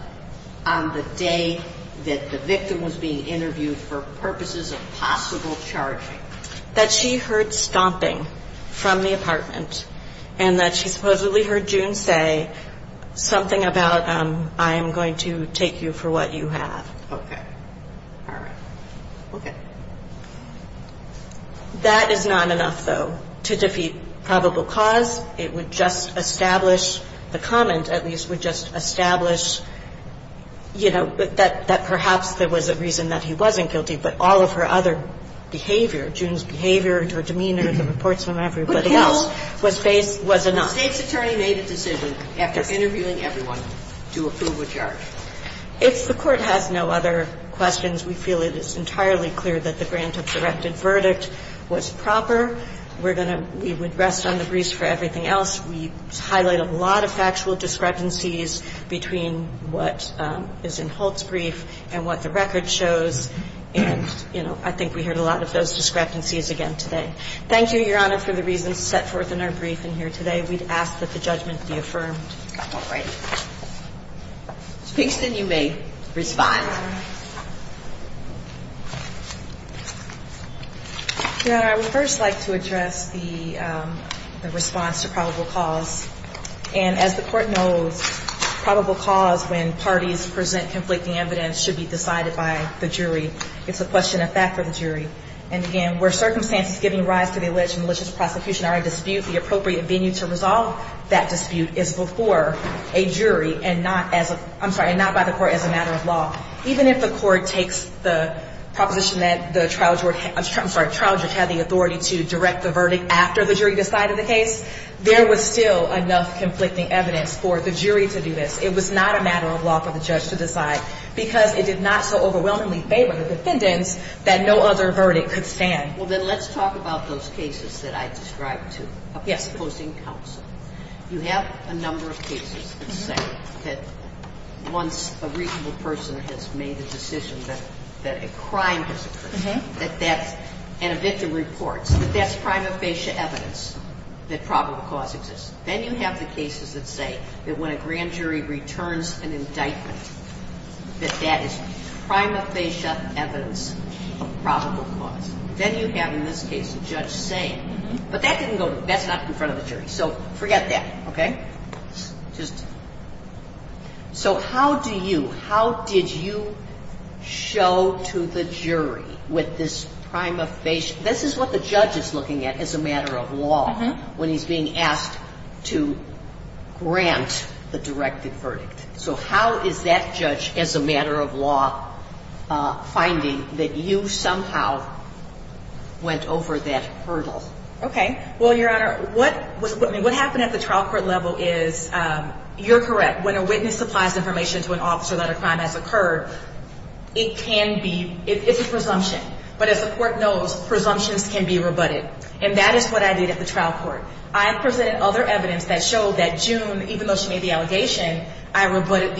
on the day that the victim was being interviewed for purposes of possible charges? That she heard stomping from the apartment. And that she supposedly heard June say something about, I am going to take you for what you have. Okay. All right. Okay. That is not enough, though, to defeat probable cause. It would just establish, the comment at least would just establish, you know, that perhaps there was a reason that he wasn't guilty. But all of her other behavior, June's behavior, her demeanor, the reports from everybody else, was enough. The state attorney made a decision after interviewing everyone to approve a charge. If the court has no other questions, we feel it is entirely clear that the grant of the rented verdict was proper. We would rest on the briefs for everything else. We highlighted a lot of factual discrepancies between what is in Holt's brief and what the record shows. And, you know, I think we heard a lot of those discrepancies again today. Thank you, Your Honor, for the reasons set forth in our briefing here today. We ask that the judgment be affirmed. All right. Kingston, you may respond. Your Honor, I would first like to address the response to probable cause. And as the court knows, probable cause when parties present conflicting evidence should be decided by the jury. It's a question of fact of the jury. And, again, where circumstances give rise to the alleged malicious prosecution or dispute, the appropriate venue to resolve that dispute is before a jury and not by the court as a matter of law. Even if the court takes the proposition that the trial judge had the authority to direct the verdict after the jury decided the case, there was still enough conflicting evidence for the jury to do this. It was not a matter of law for the judge to decide because it did not so overwhelmingly favor the defendant that no other verdict could stand. Well, then let's talk about those cases that I described to you. Okay. You have a number of cases that say that once a reasonable person has made a decision that a crime has occurred, that that individual reports that that's prima facie evidence that probable cause exists. Then you have the cases that say that when a grand jury returns an indictment, that that is prima facie evidence of probable cause. Then you have, in this case, the judge saying, but that's not in front of the jury. So, forget that. Okay? So, how do you, how did you show to the jury with this prima facie, this is what the judge is looking at as a matter of law when he's being asked to grant the directed verdict. So, how is that judge, as a matter of law, finding that you somehow went over that hurdle? Okay. Well, Your Honor, what happened at the trial court level is, you're correct, when a witness supplies information to an officer that a crime has occurred, it can be, it's a presumption. But as the court knows, presumptions can be rebutted. And that is what I did at the trial court. I presented other evidence that showed that June, even though she made the allegation, I rebutted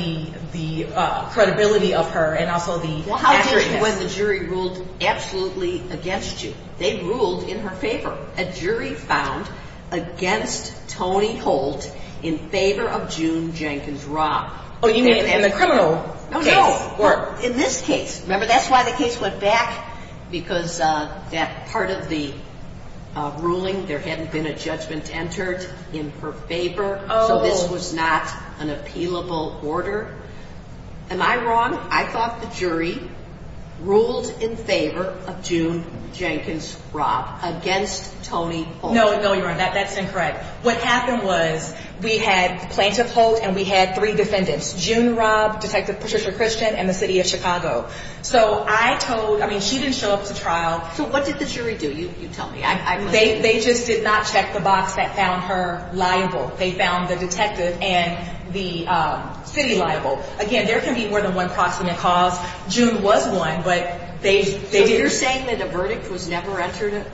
the credibility of her and also the fact that- Well, how did it, when the jury ruled absolutely against June? They ruled in her favor. A jury found, against Tony Holt, in favor of June Jenkins Rock. Oh, you mean in the criminal- No, no. In this case. Remember, that's why the case went back, because that part of the ruling, there hadn't been a judgment entered in her favor. Oh. So, this was not an appealable order. Am I wrong? I thought the jury ruled in favor of June Jenkins Rock, against Tony Holt. No, no, Your Honor, that's incorrect. What happened was, we had plaintiff hold, and we had three defendants. June Rock, Detective Patricia Christian, and the city of Chicago. So, I told, I mean, she didn't show up at the trial. So, what did the jury do? You tell me. They just did not check the box that found her liable. They found the detective and the city liable. Again, there can be more than one proximate cause. June was one, but they- So, you're saying that the verdict was never entered?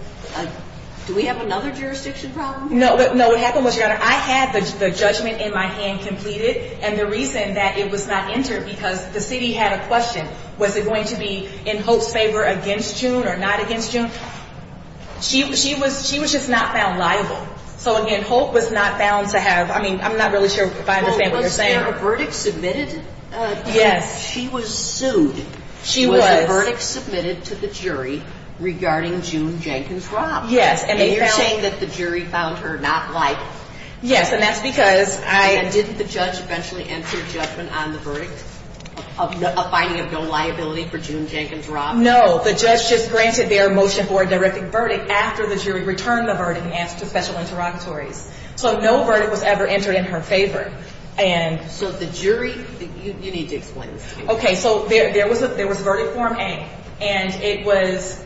Do we have another jurisdiction problem? No, what happened was, Your Honor, I had the judgment in my hand completed, and the reason that it was not entered, because the city had a question. Was it going to be in Holt's favor against June, or not against June? She was just not found liable. So, again, Holt was not found to have, I mean, I'm not really sure if I understand what you're saying. Well, let's say a verdict submitted. Yes. She was sued. She was. Was the verdict submitted to the jury regarding June Jenkins Rock? Yes, and they found- And you're saying that the jury found her not liable? Yes, and that's because I- And didn't the judge eventually enter a judgment on the verdict, a finding of no liability for June Jenkins Rock? No, the judge just granted their motion for a direct verdict after the jury returned the verdict in the absence of special interrogatory. So, no verdict was ever entered in her favor. And so, the jury- You need to explain this. Okay, so there was a verdict form A, and it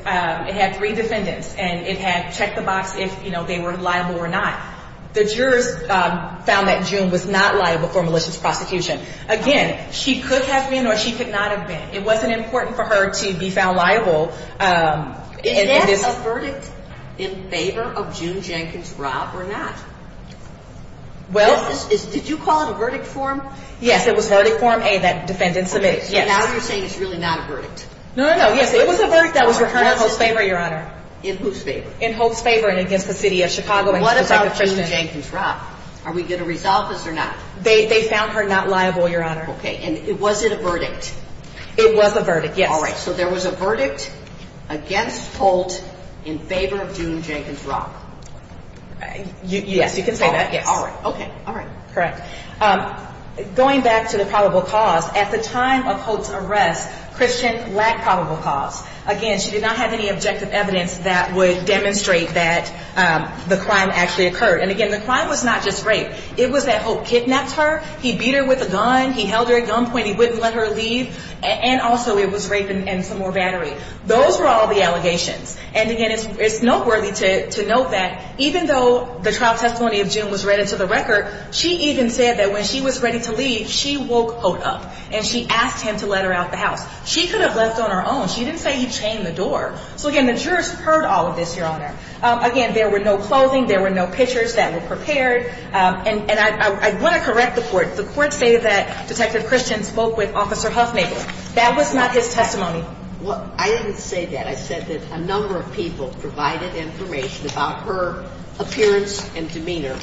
had three defendants, and it had to check the box if they were liable or not. The jurors found that June was not liable for malicious prosecution. Again, she could have been, or she could not have been. It wasn't important for her to be found liable. Is that a verdict in favor of June Jenkins Rock or not? Well- Did you call it a verdict form? Yes, it was a verdict form A that the defendants submitted. Now you're saying it's really not a verdict. No, no, no. It was a verdict that was returned in Hope's favor, Your Honor. In whose favor? In Hope's favor and against the city of Chicago. What about June Jenkins Rock? Are we going to resolve this or not? They found her not liable, Your Honor. Okay, and was it a verdict? It was a verdict, yes. All right. So there was a verdict against Hope in favor of June Jenkins Rock. Yes, you can say that. All right. Okay. All right. Correct. Going back to the probable cause, at the time of Hope's arrest, Christian lacked probable cause. Again, she did not have any objective evidence that would demonstrate that the crime actually occurred. And, again, the crime was not just rape. It was that Hope kidnapped her, he beat her with a gun, he held her at gunpoint, and he wouldn't let her leave, and also it was rape and some more battery. Those were all the allegations. And, again, it's noteworthy to note that even though the trial testimony of June was read into the record, she even said that when she was ready to leave, she woke Hope up and she asked him to let her out the house. She could have left on her own. She didn't say he chained the door. So, again, the jurors heard all of this, Your Honor. Again, there were no clothing, there were no pictures that were prepared. And I want to correct the court. The court stated that Detective Christian spoke with Officer Huffnagle. That was not his testimony. Well, I didn't say that. I said that a number of people provided information about her appearance and demeanor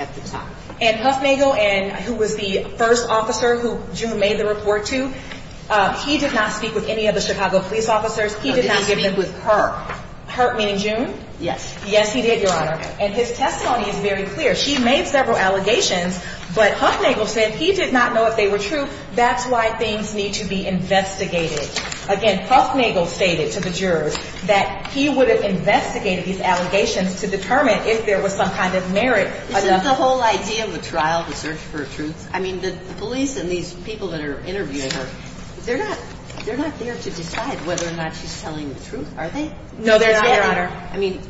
at the time. And Huffnagle, who was the first officer who June made the report to, he did not speak with any of the Chicago police officers. He did not speak with her. Her, meaning June? Yes. Yes, he did, Your Honor. And his testimony is very clear. She made several allegations, but Huffnagle said he did not know if they were true. That's why things need to be investigated. Again, Huffnagle stated to the jurors that he would have investigated these allegations to determine if there was some kind of merit. The whole idea of the trial to search for truth, I mean, the police and these people that are interviewing her, they're not there to decide whether or not she's telling the truth, are they? No, they're not, Your Honor. I mean,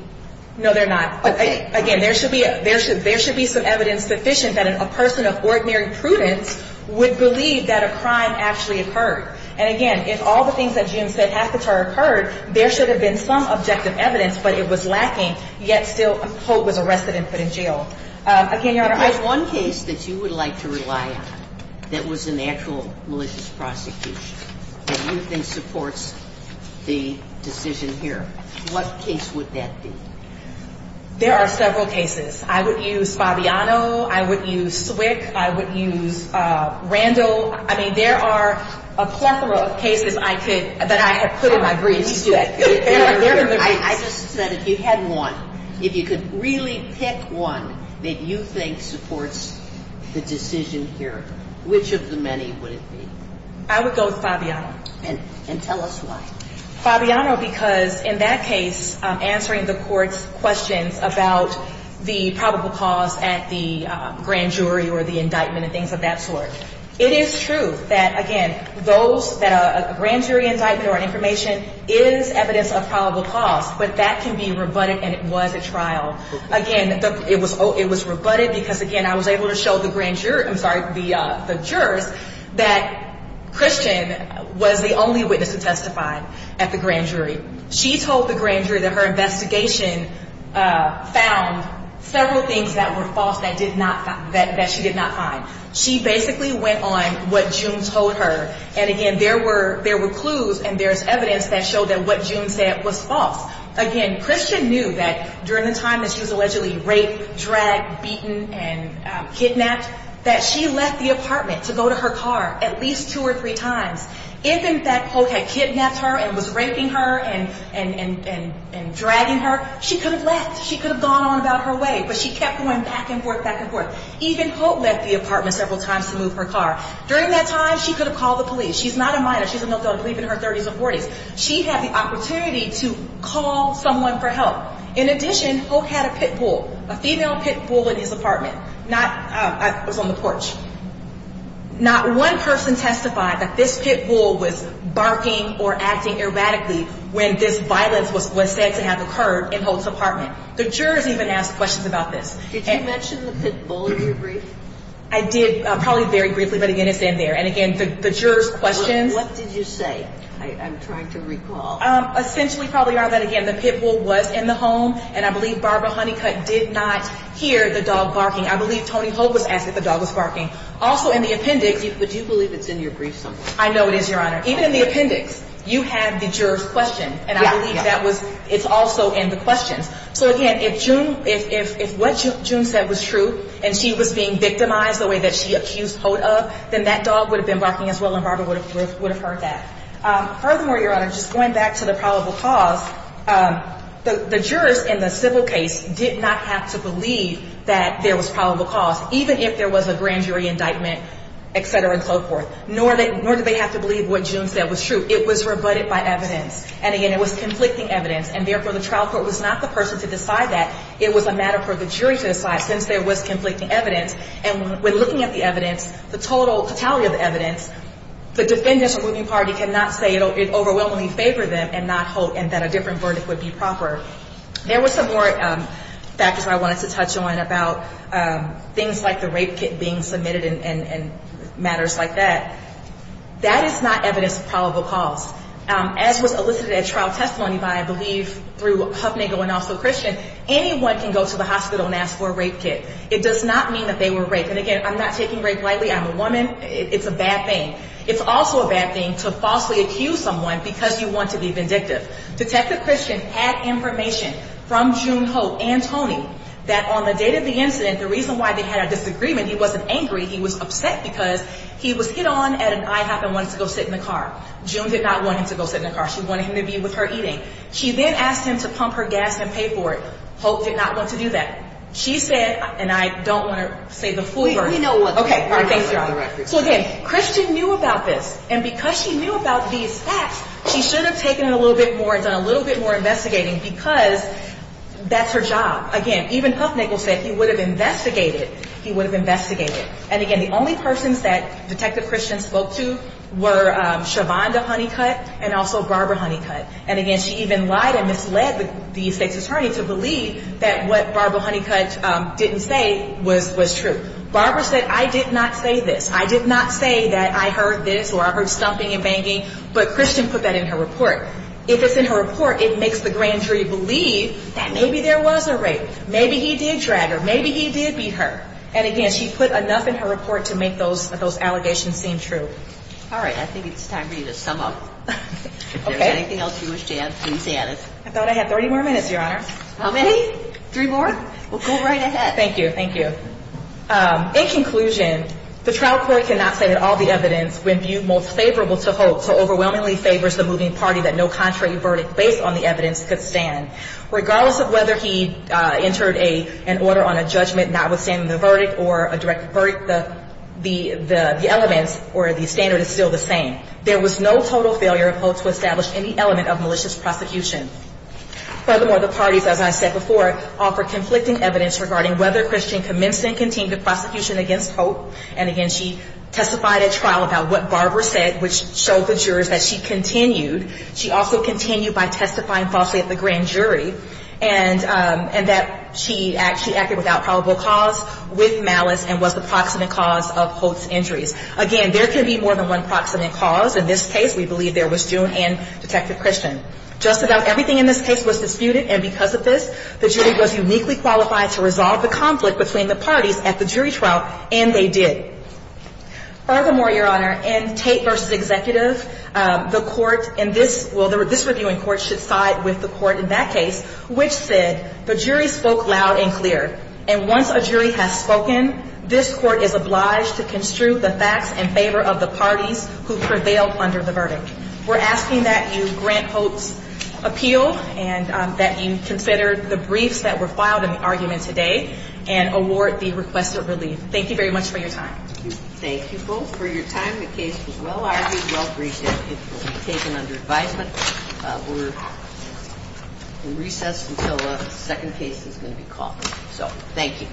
No, they're not. Again, there should be some evidence sufficient that a person of ordinary prudence would believe that a crime actually occurred. And, again, if all the things that June said had to have occurred, there should have been some objective evidence, but it was lacking, yet still a cop was arrested and put in jail. Again, Your Honor, If you had one case that you would like to rely on that was an actual malicious prosecution that you think supports the decision here, what case would that be? There are several cases. I would use Fabiano. I would use Swick. I would use Randall. I mean, there are a plethora of cases that I could put in my brief. I just said, if you had one, if you could really pick one that you think supports the decision here, which of the many would it be? I would go with Fabiano. And tell us why. Fabiano, because in that case, answering the court's question about the probable cause at the grand jury or the indictment and things of that sort, it is true that, again, a grand jury indictment or information is evidence of probable cause, but that can be rebutted, and it was a trial. Again, it was rebutted because, again, I was able to show the jury that Christian was the only witness who testified at the grand jury. She told the grand jury that her investigation found several things that were false that she did not find. She basically went on what June told her, and, again, there were clues and there was evidence that showed that what June said was false. Again, Christian knew that during the time that she was allegedly raped, dragged, beaten, and kidnapped, that she left the apartment to go to her car at least two or three times. If, in fact, Hope had kidnapped her and was raping her and dragging her, she could have left. She could have gone on about her way, but she kept going back and forth, back and forth. Even Hope left the apartment several times to move her car. During that time, she could have called the police. She's not a minor. She's a middle-aged woman in her 30s or 40s. She had the opportunity to call someone for help. In addition, Hope had a pit bull, a female pit bull in his apartment. I was on the porch. Not one person testified that this pit bull was barking or acting erratically when this violence was said to have occurred in Hope's apartment. The jurors even asked questions about this. Did you mention the pit bull in your brief? I did, probably very briefly, but, again, it's in there. And, again, the jurors' questions. What did you say? I'm trying to recall. Essentially, probably, Your Honor, that, again, the pit bull was in the home, and I believe Barbara Honeycutt did not hear the dog barking. I believe Tony Hope was acting as if the dog was barking. Also, in the appendix. But you believe it's in your brief, don't you? I know it is, Your Honor. Even in the appendix, you have the jurors' questions, and I believe that it's also in the questions. So, again, if what June said was true, and she was being victimized the way that she accused Hope of, then that dog would have been barking as well, and Barbara would have heard that. Furthermore, Your Honor, just going back to the probable cause, the jurors in the civil case did not have to believe that there was probable cause, even if there was a grand jury indictment, et cetera, and so forth, nor did they have to believe what June said was true. It was rebutted by evidence. And, again, it was conflicting evidence, and, therefore, the trial court was not the person to decide that. It was a matter for the jury to decide, since there was conflicting evidence. And when looking at the evidence, the total totality of the evidence, the defendants of the moving party cannot say it overwhelmingly favors them and not hope that a different verdict would be proper. There were some more factors I wanted to touch on about things like the rape kit being submitted and matters like that. That is not evidence of probable cause. As was elicited at trial testimony by, I believe, through Huffnagle and also Christian, anyone can go to the hospital and ask for a rape kit. It does not mean that they were raped. And, again, I'm not taking rape lightly. I'm a woman. It's a bad thing. It's also a bad thing to falsely accuse someone because you want to be vindictive. Detective Christian had information from June Hope and Tony that on the date of the incident, the reason why they had this agreement, he wasn't angry. He was upset because he was hit on at an IHOP and wanted to go sit in the car. June did not want him to go sit in the car. She wanted him to be with her eating. She did ask him to pump her gas and pay for it. Hope did not want to do that. She said, and I don't want to say the full verdict. Okay, Christian knew about this. And because he knew about these facts, he should have taken it a little bit more, done a little bit more investigating because that's her job. Again, even Huffnagle said he would have investigated. He would have investigated. And, again, the only persons that Detective Christian spoke to were Shavonda Honeycutt and also Barbara Honeycutt. And, again, she even lied and misled the state attorney to believe that what Barbara Honeycutt didn't say was true. Barbara said, I did not say this. I did not say that I heard this or I heard stomping and banging. But Christian put that in her report. If it's in her report, it makes the grand jury believe that maybe there was a rape. Maybe he did drag her. Maybe he did beat her. And, again, she put enough in her report to make those allegations seem true. All right. I think it's time for you to sum up. Okay. If there's anything else you wish to add, please add. I thought I had 30 more minutes, Your Honor. How many? Three more? Well, go right ahead. Thank you. Thank you. In conclusion, the trial court cannot say that all the evidence was viewed most favorable to Hope, so overwhelmingly favors the moving party that no contrary verdict based on the evidence could stand. Regardless of whether he entered an order on a judgment notwithstanding the verdict or a direct verdict, the elements or the standard is still the same. There was no total failure of Hope to establish any element of malicious prosecution. Furthermore, the parties, as I said before, offer conflicting evidence regarding whether Christian commenced and continued the prosecution against Hope. And, again, she testified at trial about what Barbara said, which showed the jurors that she continued. She also continued by testifying falsely at the grand jury and that she acted without probable cause, with malice, and was the proximate cause of Hope's injuries. Again, there can be more than one proximate cause. In this case, we believe there was June and Detective Christian. Just about everything in this case was disputed, and because of this, the jury was uniquely qualified to resolve the conflict between the parties at the jury trial, and they did. Furthermore, Your Honor, in Tate v. Executives, the court in this – well, this reviewing court should side with the court in that case, which said, the jury spoke loud and clear, and once a jury has spoken, this court is obliged to construe the facts in favor of the party who prevailed under the verdict. We're asking that you grant Hope's appeal, and that you consider the briefs that were filed in the argument today, and award the request of release. Thank you very much for your time. Thank you both for your time. The case is well argued. We all appreciate it. The case is under five minutes. We're in recess until the second case is called. So, thank you.